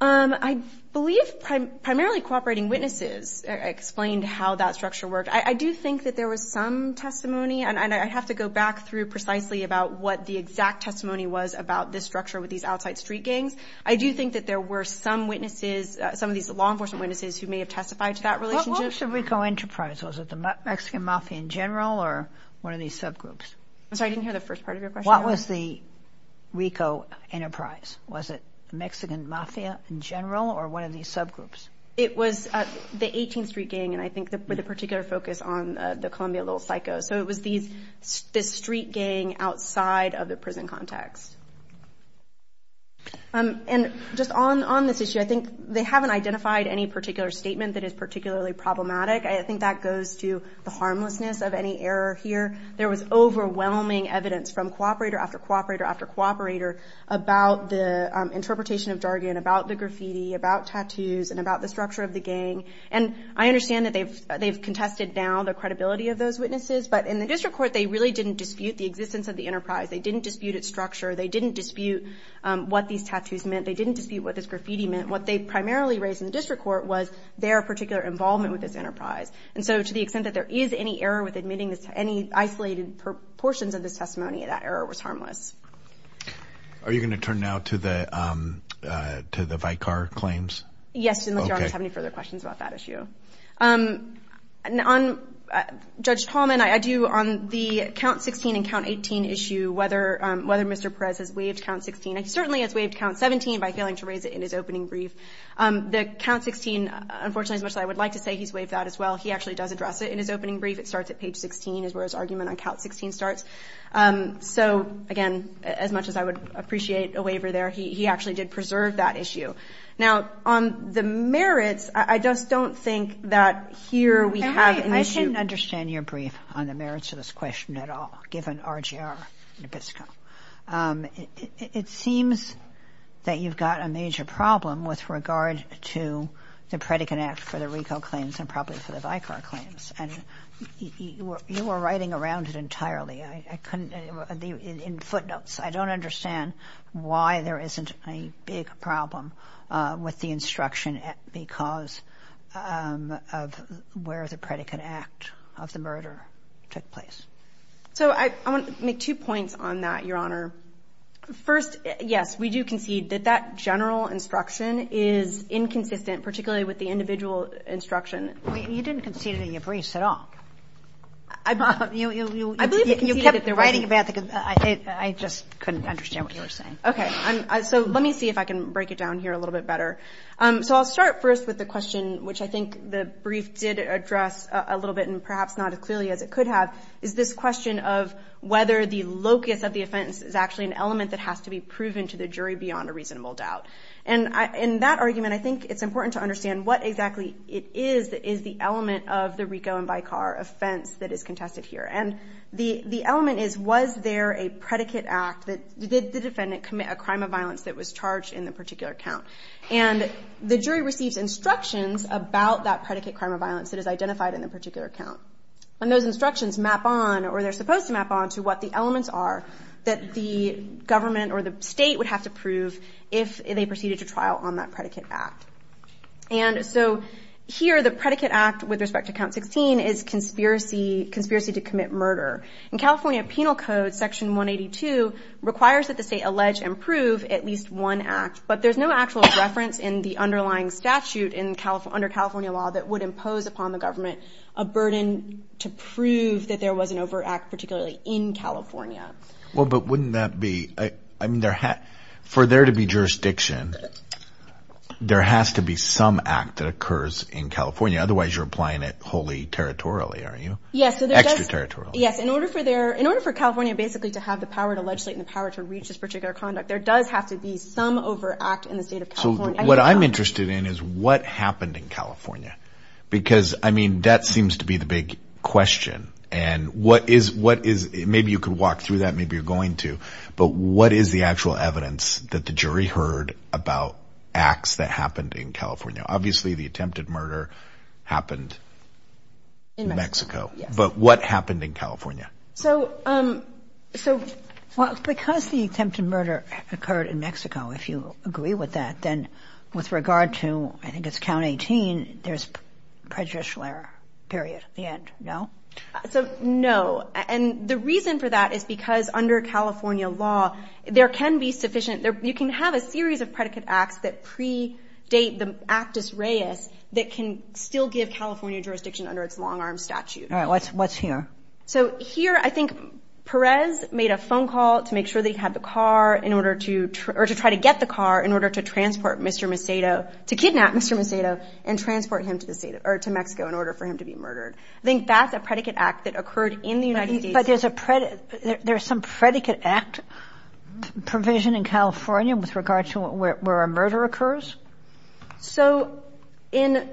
I believe primarily cooperating witnesses explained how that structure worked. I do think that there was some testimony, and I'd have to go back through precisely about what the exact testimony was about this structure with these outside street gangs. I do think that there were some witnesses, some of these law enforcement witnesses who may have testified to that relationship. What was the RICO Enterprise? Was it the Mexican mafia in general, or one of these subgroups? I'm sorry, I didn't hear the first part of your question. What was the RICO Enterprise? Was it Mexican mafia in general, or one of these subgroups? It was the 18th Street gang, and I think with a particular focus on the Columbia Little Psycho. So it was the street gang outside of the prison context. And just on this issue, I think they haven't identified any particular statement that is particularly problematic. I think that goes to the harmlessness of any error here. There was overwhelming evidence from cooperator after cooperator after cooperator about the interpretation of jargon, about the graffiti, about tattoos, and about the structure of the gang. And I understand that they've contested now the credibility of those witnesses, but in the district court they really didn't dispute the existence of the enterprise. They didn't dispute its structure. They didn't dispute what these tattoos meant. They didn't dispute what this graffiti meant. What they primarily raised in the district court was their particular involvement with this enterprise. And so to the extent that there is any error with admitting any isolated portions of the testimony, that error was harmless. Are you going to turn now to the Vicar claims? Yes, and I don't have any further questions about that issue. On Judge Tolman, I do, on the count 16 and count 18 issue, whether Mr. Perez has waived count 16, he certainly has waived count 17 by failing to raise it in his opening brief. The count 16, unfortunately, as much as I would like to say he's waived that as well, he actually does address it in his opening brief. It starts at page 16 is where his argument on count 16 starts. So, again, as much as I would appreciate a waiver there, he actually did preserve that issue. Now, on the merits, I just don't think that here we have an issue. I didn't understand your brief on the merits of this question at all, given RGR Nabisco. It seems that you've got a major problem with regard to the Predican Act for the recall claims and probably for the Vicar claims. And you were writing around it entirely in footnotes. I don't understand why there isn't a big problem with the instruction because of where the Predican Act of the murder took place. So, I want to make two points on that, Your Honor. First, yes, we do concede that that general instruction is inconsistent, particularly with the individual instruction. You didn't concede it in your briefs at all. I believe that you kept writing that because I just couldn't understand what you were saying. Okay. So, let me see if I can break it down here a little bit better. So, I'll start first with the question, which I think the brief did address a little bit, and perhaps not as clearly as it could have, is this question of whether the locus of the offense is actually an element that has to be proven to the jury beyond a reasonable doubt. And in that argument, I think it's important to understand what exactly it is that is the element of the recall and vicar offense that is contested here. And the element is, was there a Predican Act that did the defendant commit a crime of violence that was charged in a particular count? And the jury received instructions about that Predican crime of violence that is identified in a particular count. And those instructions map on, or they're supposed to map on, to what the elements are that the government or the state would have to prove if they proceeded to trial on that Predican Act. And so, here, the Predican Act, with respect to Count 16, is conspiracy to commit murder. In California Penal Code, Section 182 requires that the state allege and prove at least one act, but there's no actual reference in the underlying statute under California law that would impose upon the government a burden to prove that there was an overt act, particularly in California. Well, but wouldn't that be, I mean, for there to be jurisdiction, there has to be some act that occurs in California. Otherwise, you're applying it wholly territorially, aren't you? Extra-territorially. Yes, in order for California, basically, to have the power to legislate and the power to reach this particular conduct, there does have to be some overt act in the state of California. So, what I'm interested in is what happened in California, because, I mean, that seems to be the big question. And what is, maybe you could walk through that, maybe you're going to, but what is the actual evidence that the jury heard about acts that happened in California? Obviously, the attempted murder happened in Mexico, but what happened in California? Well, because the attempted murder occurred in Mexico, if you agree with that, then with regard to, I think it's County 18, there's prejudicial error, period, the end, no? So, no, and the reason for that is because under California law, there can be sufficient, you can have a series of predicate acts that pre-date the actus reus that can still give California jurisdiction under its long-arm statute. All right, what's here? So, here, I think Perez made a phone call to make sure they had the car in order to, or to try to get the car in order to transport Mr. Macedo, to kidnap Mr. Macedo, and transport him to Mexico in order for him to be murdered. I think that's a predicate act that occurred in the United States. But there's some predicate act provision in California with regard to where a murder occurs? So, in...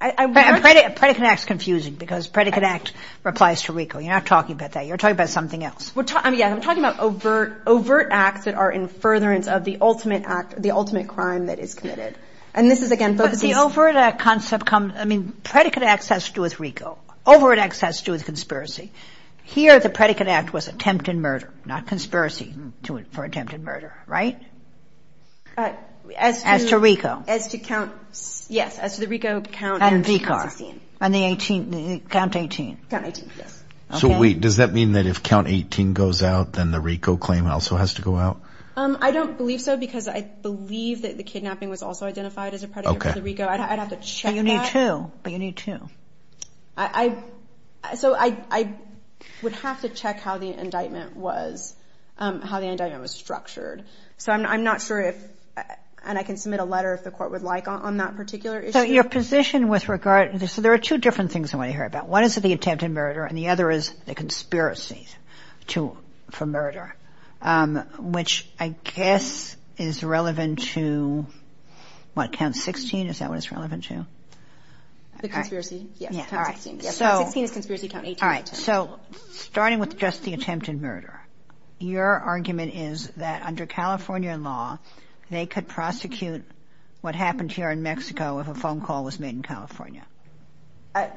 Predicate act's confusing because predicate act applies to RICO. You're not talking about that. You're talking about something else. Yeah, I'm talking about overt acts that are in furtherance of the ultimate act, the ultimate crime that is committed. And this is again... But the overt act concept comes, I mean, predicate acts has to do with RICO. Overt acts has to do with conspiracy. Here, the predicate act was attempted murder, not conspiracy for attempted murder, right? As to RICO. Yes, as to the RICO count 18. And the 18, count 18. Count 18, yes. So, does that mean that if count 18 goes out, then the RICO claim also has to go out? I don't believe so, because I believe that the kidnapping was also identified as a predicate to RICO. I'd have to check that. But you need two. So, I would have to check how the indictment was structured. So, I'm not sure if... And I can submit a letter if the court would like on that particular issue. So, your position with regard... So, there are two different things I want to hear about. One is the attempted murder, and the other is the conspiracy for murder, which I guess is relevant to, what, count 16? Is that what it's relevant to? The conspiracy? Yes. So, starting with just the attempted murder. Your argument is that under California law, they could prosecute what happened here in Mexico if a phone call was made in California.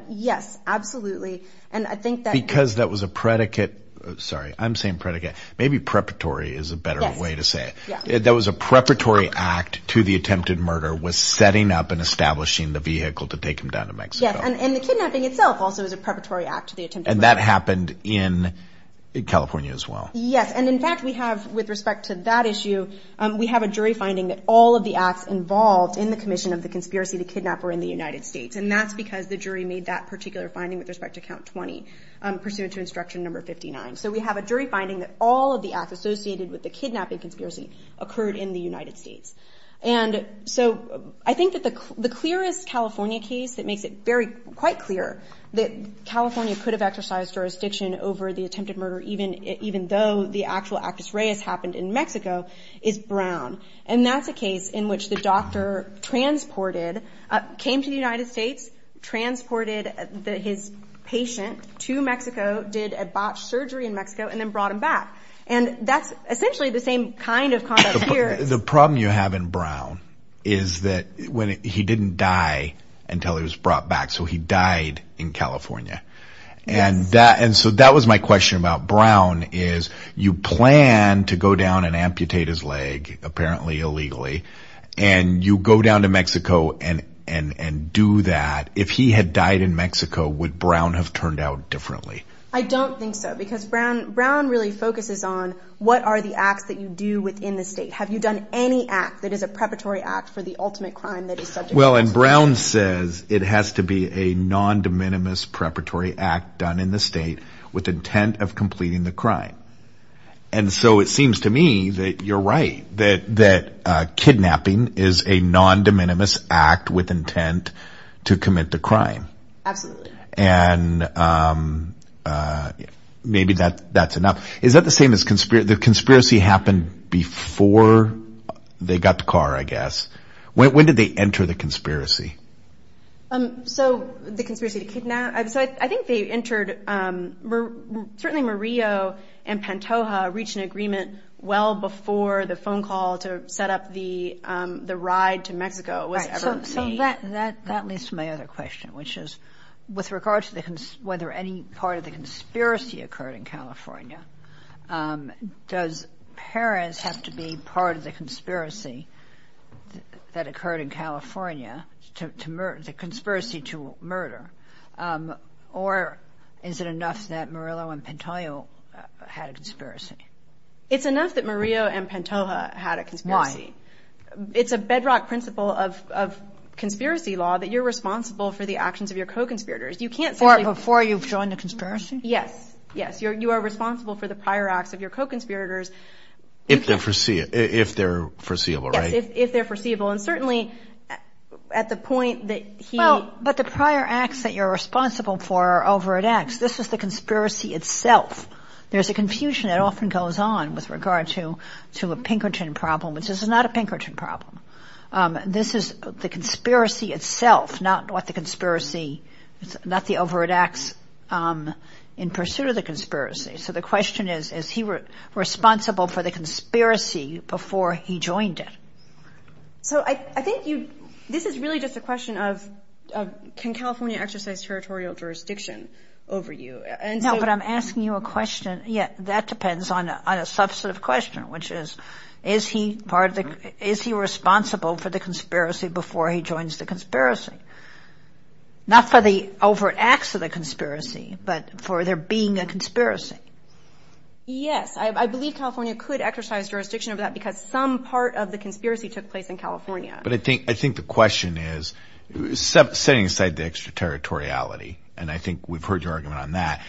Yes, absolutely. And I think that... Because that was a predicate... Sorry, I'm saying predicate. Maybe preparatory is a better way to say it. Yes. There was a preparatory act to the attempted murder with setting up and establishing the vehicle to take him down to Mexico. Yes, and the kidnapping itself also was a preparatory act to the attempted murder. And that happened in California as well. Yes, and in fact, we have, with respect to that issue, we have a jury finding that all of the acts involved in the commission of the conspiracy to kidnap were in the United States. And that's because the jury made that particular finding with respect to count 20, pursuant to instruction number 59. So, we have a jury finding that all of the acts associated with the kidnapping conspiracy occurred in the United States. And so, I think that the clearest California case that makes it very, quite clear that California could have exercised jurisdiction over the attempted murder, even though the actual actus reus happened in Mexico, is Brown. And that's a case in which the doctor transported, came to the United States, transported his patient to Mexico, did a botched surgery in Mexico, and then brought him back. And that's essentially the same kind of conduct here. The problem you have in Brown is that he didn't die until he was brought back. So, he died in California. And so, that was my question about Brown, is you plan to go down and amputate his leg, apparently illegally, and you go down to Mexico and do that. If he had died in Mexico, would Brown have turned out differently? I don't think so, because Brown really focuses on what are the acts that you do within the state. Have you done any act that is a preparatory act for the ultimate crime that is subject to... Well, and Brown says it has to be a non-de minimis preparatory act done in the state with intent of completing the crime. And so, it seems to me that you're right, that kidnapping is a non-de minimis act with intent to commit the crime. Absolutely. And maybe that's enough. Is that the same as the conspiracy happened before they got the car, I guess? When did they enter the conspiracy? So, the conspiracy to kidnap... I think they entered... Certainly, Murillo and Pantoja reached an agreement well before the phone call to set up the ride to Mexico. That leads to my other question, which is, with regards to whether any part of the conspiracy occurred in California, does Perez have to be part of the conspiracy that occurred in California, the conspiracy to murder, or is it enough that Murillo and Pantoja had a conspiracy? It's enough that Murillo and Pantoja had a conspiracy. Why? Because it's a bedrock principle of conspiracy law that you're responsible for the actions of your co-conspirators. Before you've joined the conspiracy? Yes. You are responsible for the prior acts of your co-conspirators. If they're foreseeable, right? Yes, if they're foreseeable. And certainly, at the point that he... But the prior acts that you're responsible for are over at X. This is the conspiracy itself. There's a confusion that often goes on with regard to a Pinkerton problem. This is not a Pinkerton problem. This is the conspiracy itself, not the over at X in pursuit of the conspiracy. So the question is, is he responsible for the conspiracy before he joined it? So I think this is really just a question of, can California exercise territorial jurisdiction over you? No, but I'm asking you a question. Yeah, that depends on a substantive question, which is, is he responsible for the conspiracy before he joins the conspiracy? Not for the over at X of the conspiracy, but for there being a conspiracy. Yes, I believe California could exercise jurisdiction over that because some part of the conspiracy took place in California. But I think the question is, setting aside the extraterritoriality, and I think we've heard your argument on that,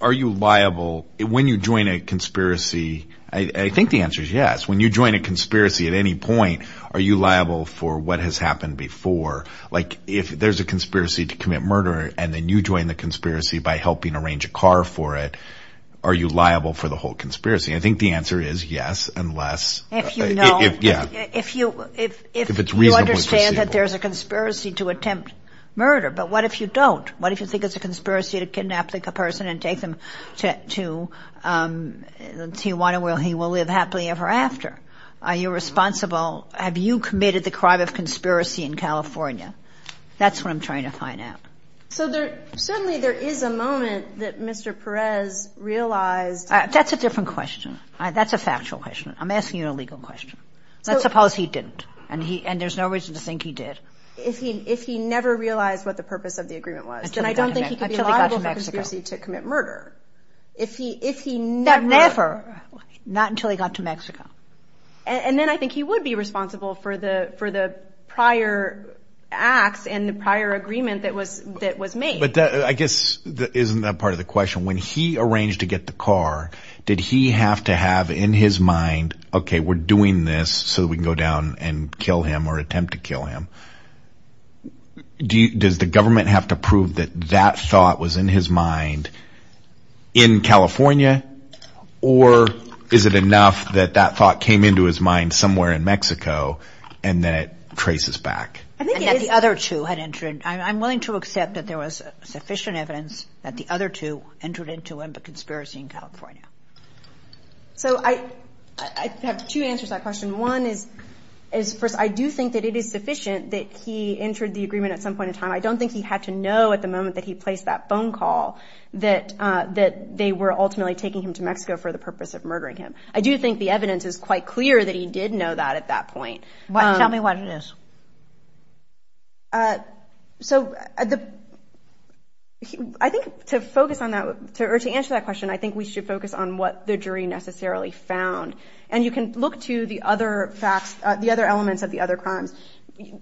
are you liable when you join a conspiracy? I think the answer is yes. When you join a conspiracy at any point, are you liable for what has happened before? Like, if there's a conspiracy to commit murder and then you join the conspiracy by helping arrange a car for it, are you liable for the whole conspiracy? I think the answer is yes, unless... If you know. Yeah. If you understand that there's a conspiracy to attempt murder. But what if you don't? What if you think it's a conspiracy to kidnap a person and take them to Tijuana where he will live happily ever after? Are you responsible? Have you committed the crime of conspiracy in California? That's what I'm trying to find out. So certainly there is a moment that Mr. Perez realized... That's a different question. That's a factual question. I'm asking you a legal question. Let's suppose he didn't, and there's no reason to think he did. If he never realized what the purpose of the agreement was, then I don't think he could be liable for a conspiracy to commit murder. If he never... Never. Not until he got to Mexico. And then I think he would be responsible for the prior acts and the prior agreement that was made. But I guess isn't that part of the question? When he arranged to get the car, did he have to have in his mind, Okay, we're doing this so we can go down and kill him or attempt to kill him. Does the government have to prove that that thought was in his mind in California? Or is it enough that that thought came into his mind somewhere in Mexico and then it traces back? I'm willing to accept that there was sufficient evidence that the other two entered into a conspiracy in California. So I have two answers to that question. One is, I do think that it is sufficient that he entered the agreement at some point in time. I don't think he had to know at the moment that he placed that phone call that they were ultimately taking him to Mexico for the purpose of murdering him. I do think the evidence is quite clear that he did know that at that point. Tell me what it is. So I think to answer that question, I think we should focus on what the jury necessarily found. And you can look to the other elements of the other crimes.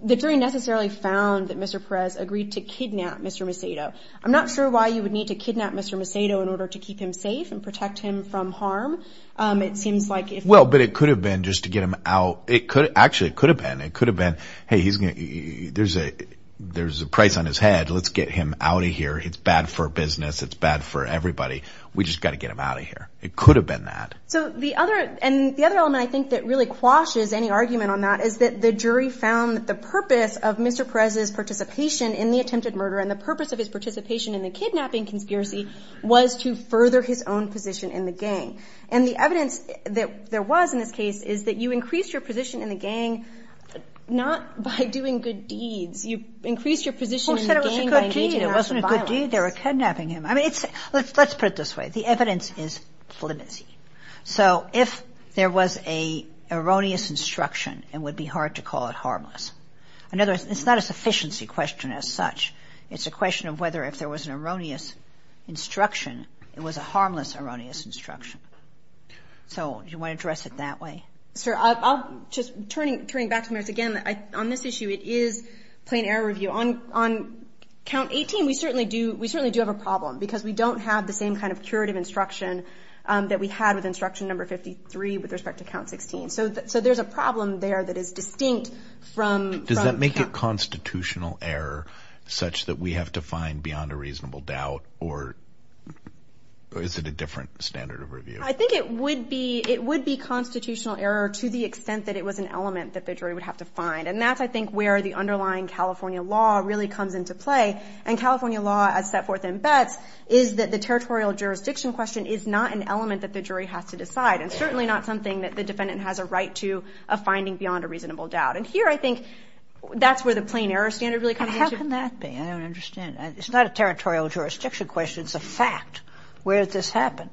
The jury necessarily found that Mr. Perez agreed to kidnap Mr. Macedo. I'm not sure why you would need to kidnap Mr. Macedo in order to keep him safe and protect him from harm. Well, but it could have been just to get him out. Actually, it could have been. It could have been, hey, there's a price on his head. Let's get him out of here. It's bad for business. It's bad for everybody. We just got to get him out of here. It could have been that. So the other element I think that really quashes any argument on that is that the jury found the purpose of Mr. Perez's participation in the attempted murder and the purpose of his participation in the kidnapping conspiracy was to further his own position in the gang. And the evidence that there was in this case is that you increase your position in the gang not by doing good deeds. You increase your position in the gang by… It wasn't a good deed. It wasn't a good deed. They were kidnapping him. I mean, let's put it this way. The evidence is flimsy. So if there was an erroneous instruction, it would be hard to call it harmless. In other words, it's not a sufficiency question as such. It's a question of whether if there was an erroneous instruction, it was a harmless erroneous instruction. So do you want to address it that way? Sure. Just turning back to this again, on this issue, it is plain error review. On count 18, we certainly do have a problem because we don't have the same kind of curative instruction that we have with instruction number 53 with respect to count 16. So there's a problem there that is distinct from… Does that make it constitutional error such that we have to find beyond a reasonable doubt, or is it a different standard of review? I think it would be constitutional error to the extent that it was an element that the jury would have to find. And that's, I think, where the underlying California law really comes into play. And California law, as set forth in Beth, is that the territorial jurisdiction question is not an element that the jury has to decide and certainly not something that the defendant has a right to a finding beyond a reasonable doubt. And here, I think, that's where the plain error standard really comes in. How can that be? I don't understand. It's not a territorial jurisdiction question. It's a fact. Where does this happen?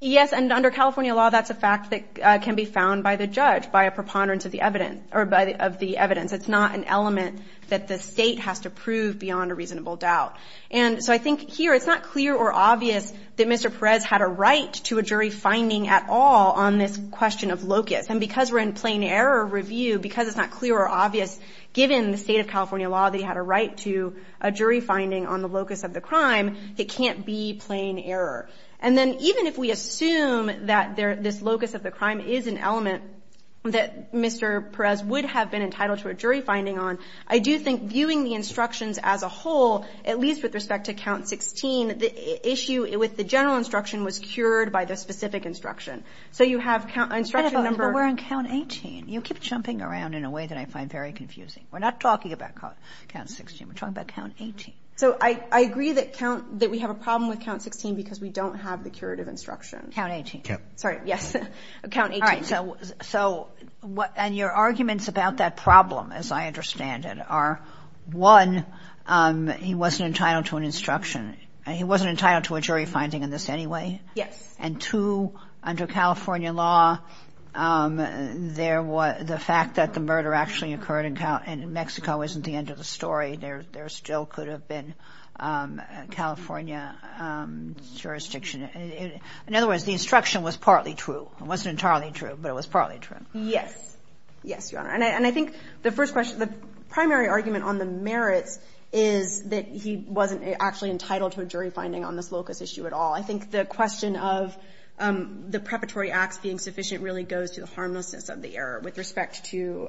Yes, and under California law, that's a fact that can be found by the judge, by a preponderance of the evidence. It's not an element that the state has to prove beyond a reasonable doubt. And so I think here, it's not clear or obvious that Mr. Perez had a right to a jury finding at all on this question of locus. And because we're in plain error review, because it's not clear or obvious, given the state of California law that he had a right to a jury finding on the locus of the crime, it can't be plain error. And then even if we assume that this locus of the crime is an element that Mr. Perez would have been entitled to a jury finding on, I do think viewing the instructions as a whole, at least with respect to count 16, the issue with the general instruction was cured by the specific instruction. So you have instruction number- We're on count 18. You keep jumping around in a way that I find very confusing. We're not talking about count 16. We're talking about count 18. So I agree that we have a problem with count 16 because we don't have the curative instructions. Count 18. Sorry, yes. And your arguments about that problem, as I understand it, are, one, he wasn't entitled to an instruction. He wasn't entitled to a jury finding in this anyway. And two, under California law, the fact that the murder actually occurred in Mexico isn't the end of the story. There still could have been California jurisdiction. In other words, the instruction was partly true. It wasn't entirely true, but it was partly true. Yes. Yes, Your Honor. And I think the primary argument on the merit is that he wasn't actually entitled to a jury finding on this locus issue at all. I think the question of the preparatory act being sufficient really goes to the harmlessness of the error with respect to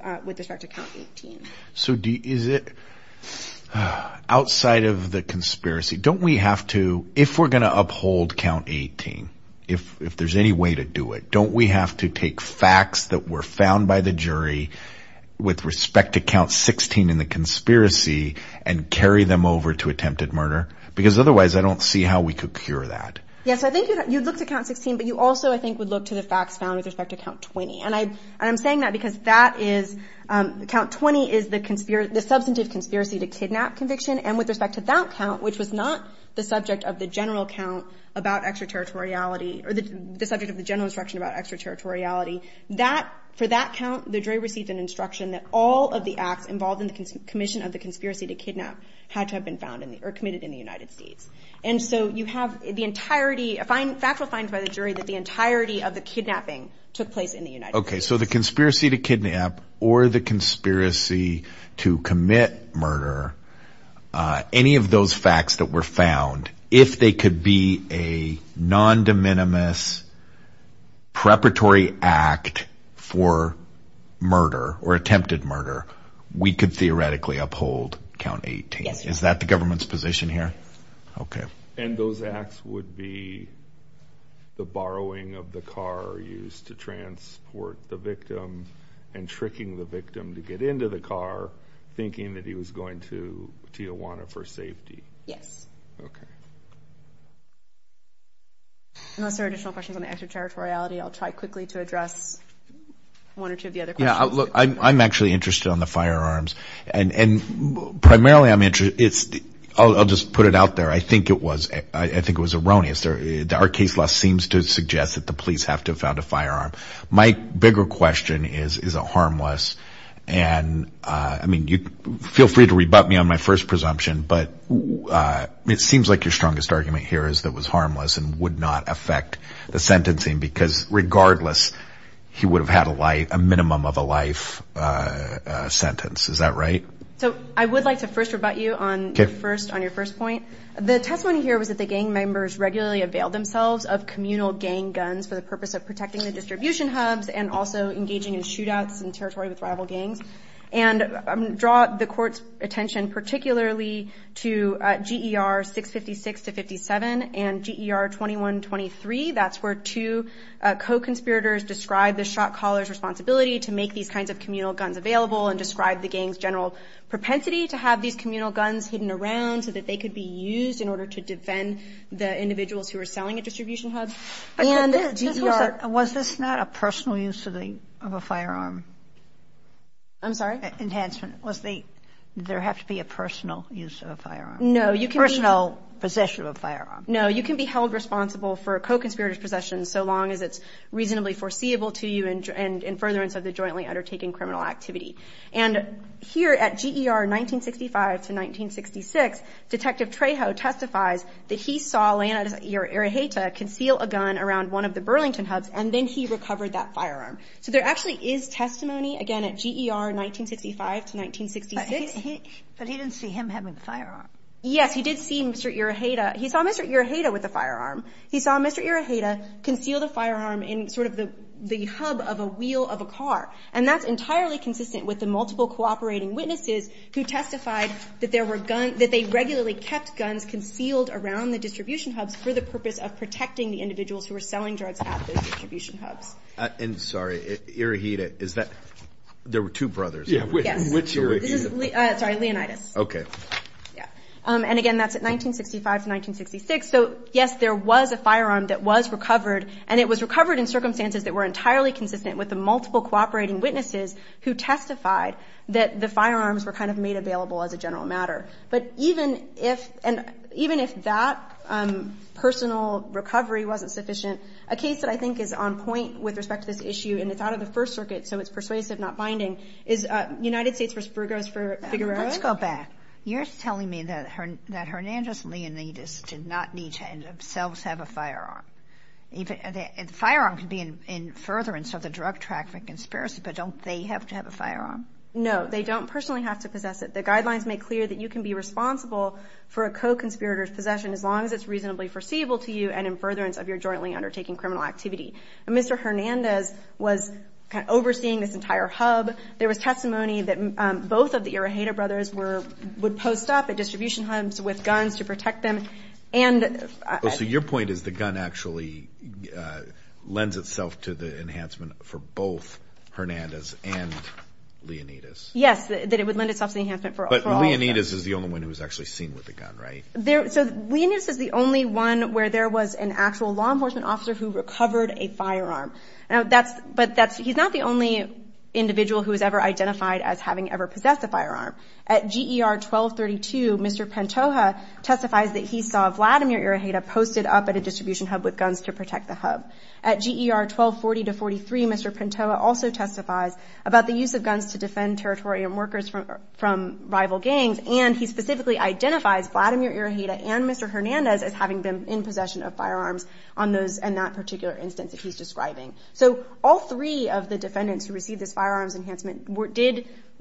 count 18. So is it, outside of the conspiracy, don't we have to, if we're going to uphold count 18, if there's any way to do it, don't we have to take facts that were found by the jury with respect to count 16 in the conspiracy and carry them over to attempted murder? Because otherwise I don't see how we could cure that. Yes, I think you'd look to count 16, but you also, I think, would look to the facts found with respect to count 20. And I'm saying that because that is, count 20 is the substantive conspiracy to kidnap conviction, and with respect to that count, which was not the subject of the general count about extraterritoriality, or the subject of the general instruction about extraterritoriality, that, for that count, the jury received an instruction that all of the acts involved in the commission of the conspiracy to kidnap had to have been found in the, or committed in the United States. And so you have the entirety, factual finds by the jury that the entirety of the kidnapping took place in the United States. Okay, so the conspiracy to kidnap or the conspiracy to commit murder, any of those facts that were found, if they could be a non-de minimis preparatory act for murder or attempted murder, we could theoretically uphold count 18. Is that the government's position here? Okay. And those acts would be the borrowing of the car used to transport the victim, and tricking the victim to get into the car, thinking that he was going to Tijuana for safety. Yes. Okay. Unless there are additional questions on extraterritoriality, I'll try quickly to address one or two of the other questions. Yeah, look, I'm actually interested on the firearms. And primarily I'm interested, I'll just put it out there, I think it was erroneous. Our case law seems to suggest that the police have to have found a firearm. My bigger question is, is it harmless? And I mean, feel free to rebut me on my first presumption, but it seems like your strongest argument here is that it was harmless and would not affect the sentencing, because regardless, he would have had a minimum of a life sentence. Is that right? So I would like to first rebut you on your first point. The testimony here was that the gang members regularly availed themselves of communal gang guns for the purpose of protecting the distribution hubs and also engaging in shootouts in territory with rival gangs. And I'm going to draw the court's attention particularly to GER 656 to 57 and GER 2123. That's where two co-conspirators describe the shot-callers' responsibility to make these kinds of communal guns available and describe the gang's general propensity to have these communal guns hidden around so that they could be used in order to defend the individuals who were selling at distribution hubs. Was this not a personal use of a firearm? I'm sorry? Enhancement. Does there have to be a personal use of a firearm? Personal possession of a firearm. No, you can be held responsible for a co-conspirator's possession so long as it's reasonably foreseeable to you and in furtherance of the jointly undertaking criminal activity. And here at GER 1965 to 1966, Detective Trejo testifies that he saw Leonard Iruheita conceal a gun around one of the Burlington hubs and then he recovered that firearm. So there actually is testimony, again, at GER 1955 to 1966. But he didn't see him having a firearm. Yes, he did see Mr. Iruheita. He saw Mr. Iruheita with a firearm. He saw Mr. Iruheita concealed a firearm in sort of the hub of a wheel of a car, and that's entirely consistent with the multiple cooperating witnesses who testified that they regularly kept guns concealed around the distribution hubs for the purpose of protecting the individuals who were selling drugs at the distribution hubs. And, sorry, Iruheita, is that? There were two brothers. Yes. Which Iruheita? Sorry, Leonidas. Okay. And, again, that's at 1965 to 1966. So, yes, there was a firearm that was recovered, and it was recovered in circumstances that were entirely consistent with the multiple cooperating witnesses who testified that the firearms were kind of made available as a general matter. But even if that personal recovery wasn't sufficient, a case that I think is on point with respect to this issue, and it's out of the First Circuit, so it's persuasive, not binding, is United States vs. Burgos v. Figueroa. Let's go back. You're telling me that Hernandez and Leonidas did not need to themselves have a firearm. A firearm could be in furtherance of the drug trafficking conspiracy, but don't they have to have a firearm? No, they don't personally have to possess it. The guidelines make clear that you can be responsible for a co-conspirator's possession as long as it's reasonably foreseeable to you and in furtherance of your jointly undertaking criminal activity. Mr. Hernandez was overseeing this entire hub. There was testimony that both of the Iroheda brothers would post up at distribution hubs with guns to protect them. So your point is the gun actually lends itself to the enhancement for both Hernandez and Leonidas. Yes, that it would lend itself to the enhancement for all of them. But Leonidas is the only one who was actually seen with the gun, right? Leonidas is the only one where there was an actual law enforcement officer who recovered a firearm. But he's not the only individual who was ever identified as having ever possessed a firearm. At GER 1232, Mr. Pantoja testifies that he saw Vladimir Iroheda posted up at a distribution hub with guns to protect the hub. At GER 1240 to 1243, Mr. Pantoja also testifies about the use of guns to defend territory and workers from rival gangs, and he specifically identifies Vladimir Iroheda and Mr. Hernandez as having been in possession of firearms in that particular instance that he's describing. So all three of the defendants who received the firearms enhancement,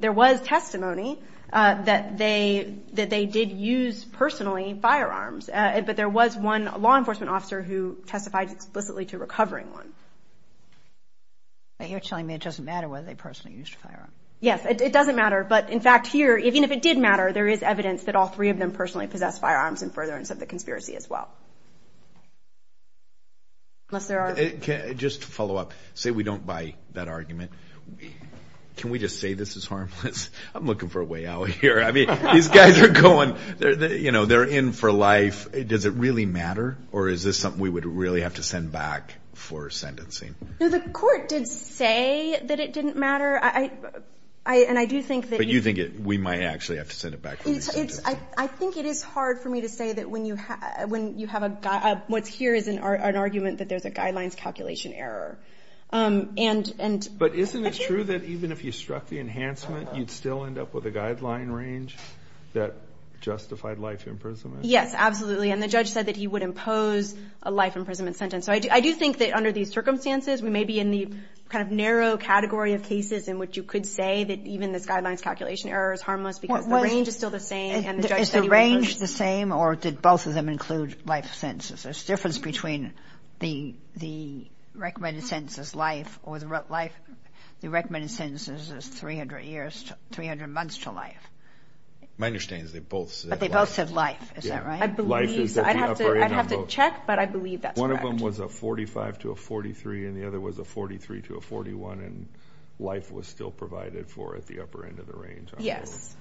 there was testimony that they did use personally firearms. But there was one law enforcement officer who testified explicitly to recovering one. You're telling me it doesn't matter whether they personally used a firearm. Yes, it doesn't matter. But, in fact, here, even if it did matter, there is evidence that all three of them personally possessed firearms in furtherance of the conspiracy as well. Can I just follow up? Say we don't buy that argument. Can we just say this is harmless? I'm looking for a way out of here. I mean, these guys are going, you know, they're in for life. Does it really matter, or is this something we would really have to send back for sentencing? The court did say that it didn't matter. But you think we might actually have to send it back for sentencing. I think it is hard for me to say that what's here is an argument that there's a guidelines calculation error. But isn't it true that even if you struck the enhancement, you'd still end up with a guideline range that justified life imprisonment? Yes, absolutely. And the judge said that he would impose a life imprisonment sentence. I do think that under these circumstances, maybe in the kind of narrow category of cases in which you could say that even the guidelines calculation error is harmless because the range is still the same. Is the range the same, or did both of them include life sentences? There's a difference between the recommended sentence is life or the recommended sentence is 300 months to life. My understanding is they both said life. But they both said life. Is that right? I'd have to check, but I believe that's correct. One of them was a 45 to a 43, and the other was a 43 to a 41, and life was still provided for at the upper end of the range. Yes.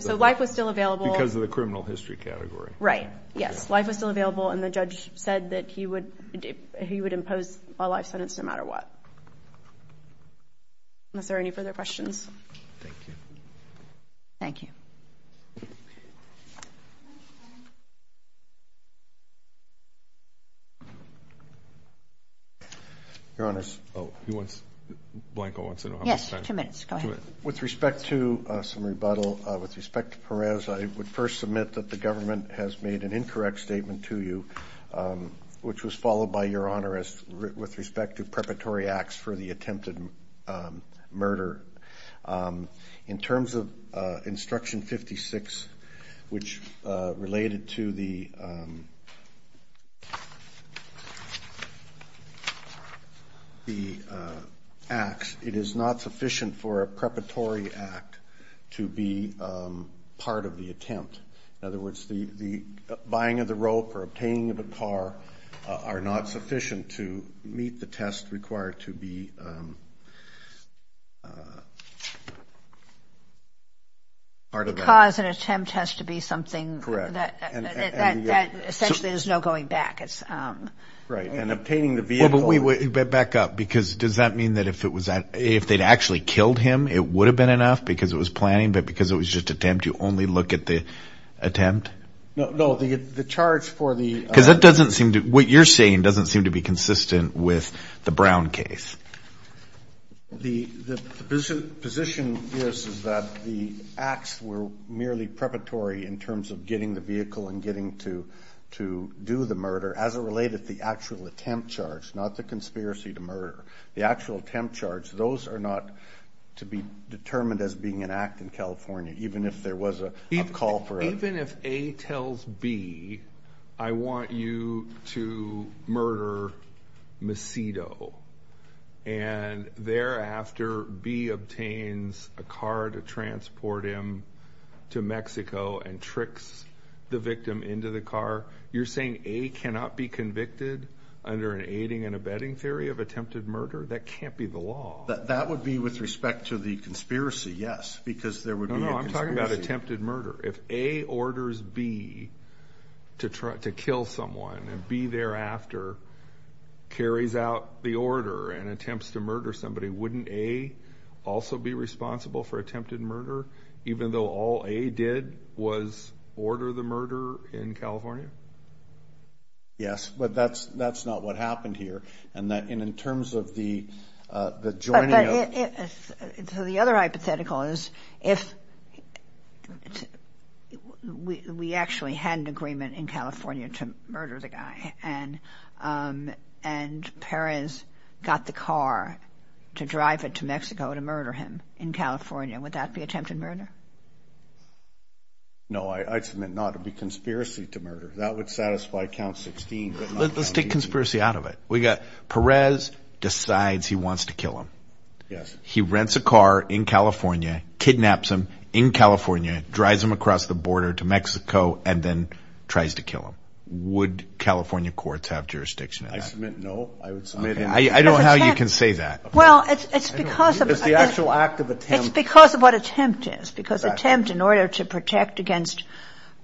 So life was still available. Because of the criminal history category. Right. Yes. Life was still available, and the judge said that he would impose a life sentence no matter what. Are there any further questions? Thank you. Your Honor, with respect to some rebuttal, with respect to Perez, I would first submit that the government has made an incorrect statement to you, which was followed by Your Honor with respect to preparatory acts for the attempted murder. In terms of Instruction 56, which related to the acts, it is not sufficient for a preparatory act to be part of the attempt. In other words, the buying of the rope or obtaining of the car are not sufficient to meet the test required to be part of that. Because an attempt has to be something that essentially there's no going back. Right. And obtaining the vehicle. But back up, because does that mean that if they'd actually killed him, it would have been enough because it was planned, but because it was just an attempt, you only look at the attempt? No, the charge for the... Because that doesn't seem to, what you're saying doesn't seem to be consistent with the Brown case. The position is that the acts were merely preparatory in terms of getting the vehicle and getting to do the murder. As it related to the actual attempt charge, not the conspiracy to murder. The actual attempt charge, those are not to be determined as being an act in California, even if there was a call for it. Even if A tells B, I want you to murder Macedo, and thereafter B obtains a car to transport him to Mexico and tricks the victim into the car. You're saying A cannot be convicted under an aiding and abetting theory of attempted murder? That can't be the law. That would be with respect to the conspiracy, yes, because there would be... No, I'm talking about attempted murder. If A orders B to kill someone and B thereafter carries out the order and attempts to murder somebody, wouldn't A also be responsible for attempted murder, even though all A did was order the murder in California? Yes, but that's not what happened here. And in terms of the journey of... So the other hypothetical is if we actually had an agreement in California to murder the guy, and Perez got the car to drive it to Mexico to murder him in California, would that be attempted murder? No, I submit not. It would be conspiracy to murder. That would satisfy count 16, but not count 18. Let's take conspiracy out of it. Perez decides he wants to kill him. Yes. He rents a car in California, kidnaps him in California, drives him across the border to Mexico, and then tries to kill him. Would California courts have jurisdiction in that? I submit no. I don't know how you can say that. Well, it's because of... It's the actual act of attempt. It's because of what attempt is, because attempt in order to protect against...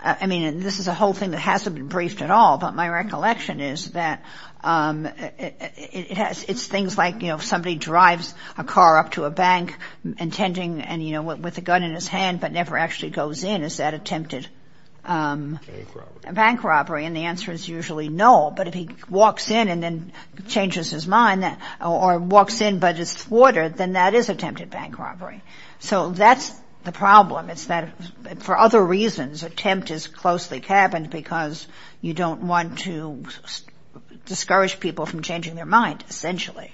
I mean, this is a whole thing that hasn't been briefed at all, but my recollection is that it's things like, you know, somebody drives a car up to a bank intending... And, you know, with a gun in his hand, but never actually goes in. Is that attempted bank robbery? And the answer is usually no. But if he walks in and then changes his mind or walks in, but it's water, then that is attempted bank robbery. So that's the problem. It's that for other reasons, attempt is closely cabined because you don't want to discourage people from changing their mind, essentially.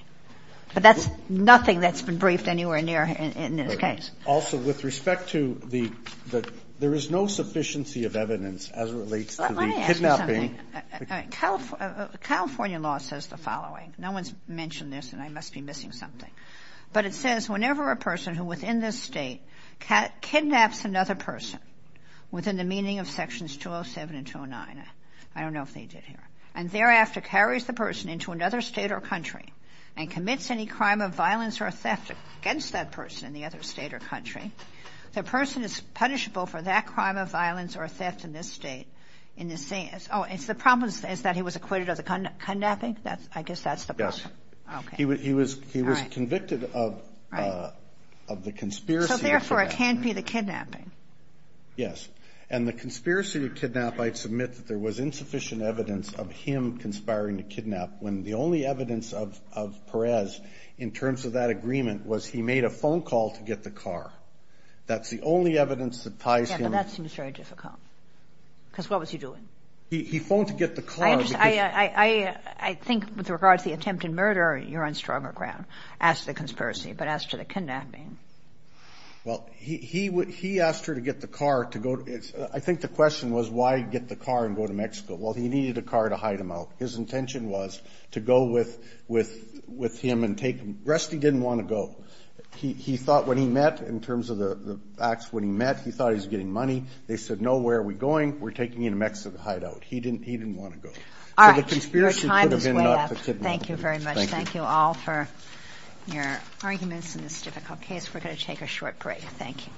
But that's nothing that's been briefed anywhere near in this case. Also, with respect to the... There is no sufficiency of evidence as it relates to the kidnapping... Let me ask you something. California law says the following. No one's mentioned this, and I must be missing something. But it says whenever a person who was in this state kidnaps another person within the meaning of Sections 207 and 209... I don't know if they did here. And thereafter carries the person into another state or country and commits any crime of violence or theft against that person in the other state or country, the person is punishable for that crime of violence or theft in this state in the same... Oh, it's the problem is that he was acquitted of the kidnapping? I guess that's the problem. He was convicted of the conspiracy... So therefore it can't be the kidnapping. Yes. And the conspiracy to kidnap, I'd submit that there was insufficient evidence of him conspiring to kidnap, when the only evidence of Perez in terms of that agreement was he made a phone call to get the car. That's the only evidence that ties him... Yeah, but that seems very difficult. Because what was he doing? He phoned to get the car... I think with regard to the attempted murder, you're on stronger ground as to the conspiracy, but as to the kidnapping... Well, he asked her to get the car to go... I think the question was why he'd get the car and go to Mexico. Well, he needed a car to hide him out. His intention was to go with him and take him. Rusty didn't want to go. He thought when he met, in terms of the facts when he met, he thought he was getting money. They said, no, where are we going? We're taking him to Mexico to hide out. He didn't want to go. All right. Your time is up. Thank you very much. Thank you all for your arguments in this difficult case. We're going to take a short break. Thank you.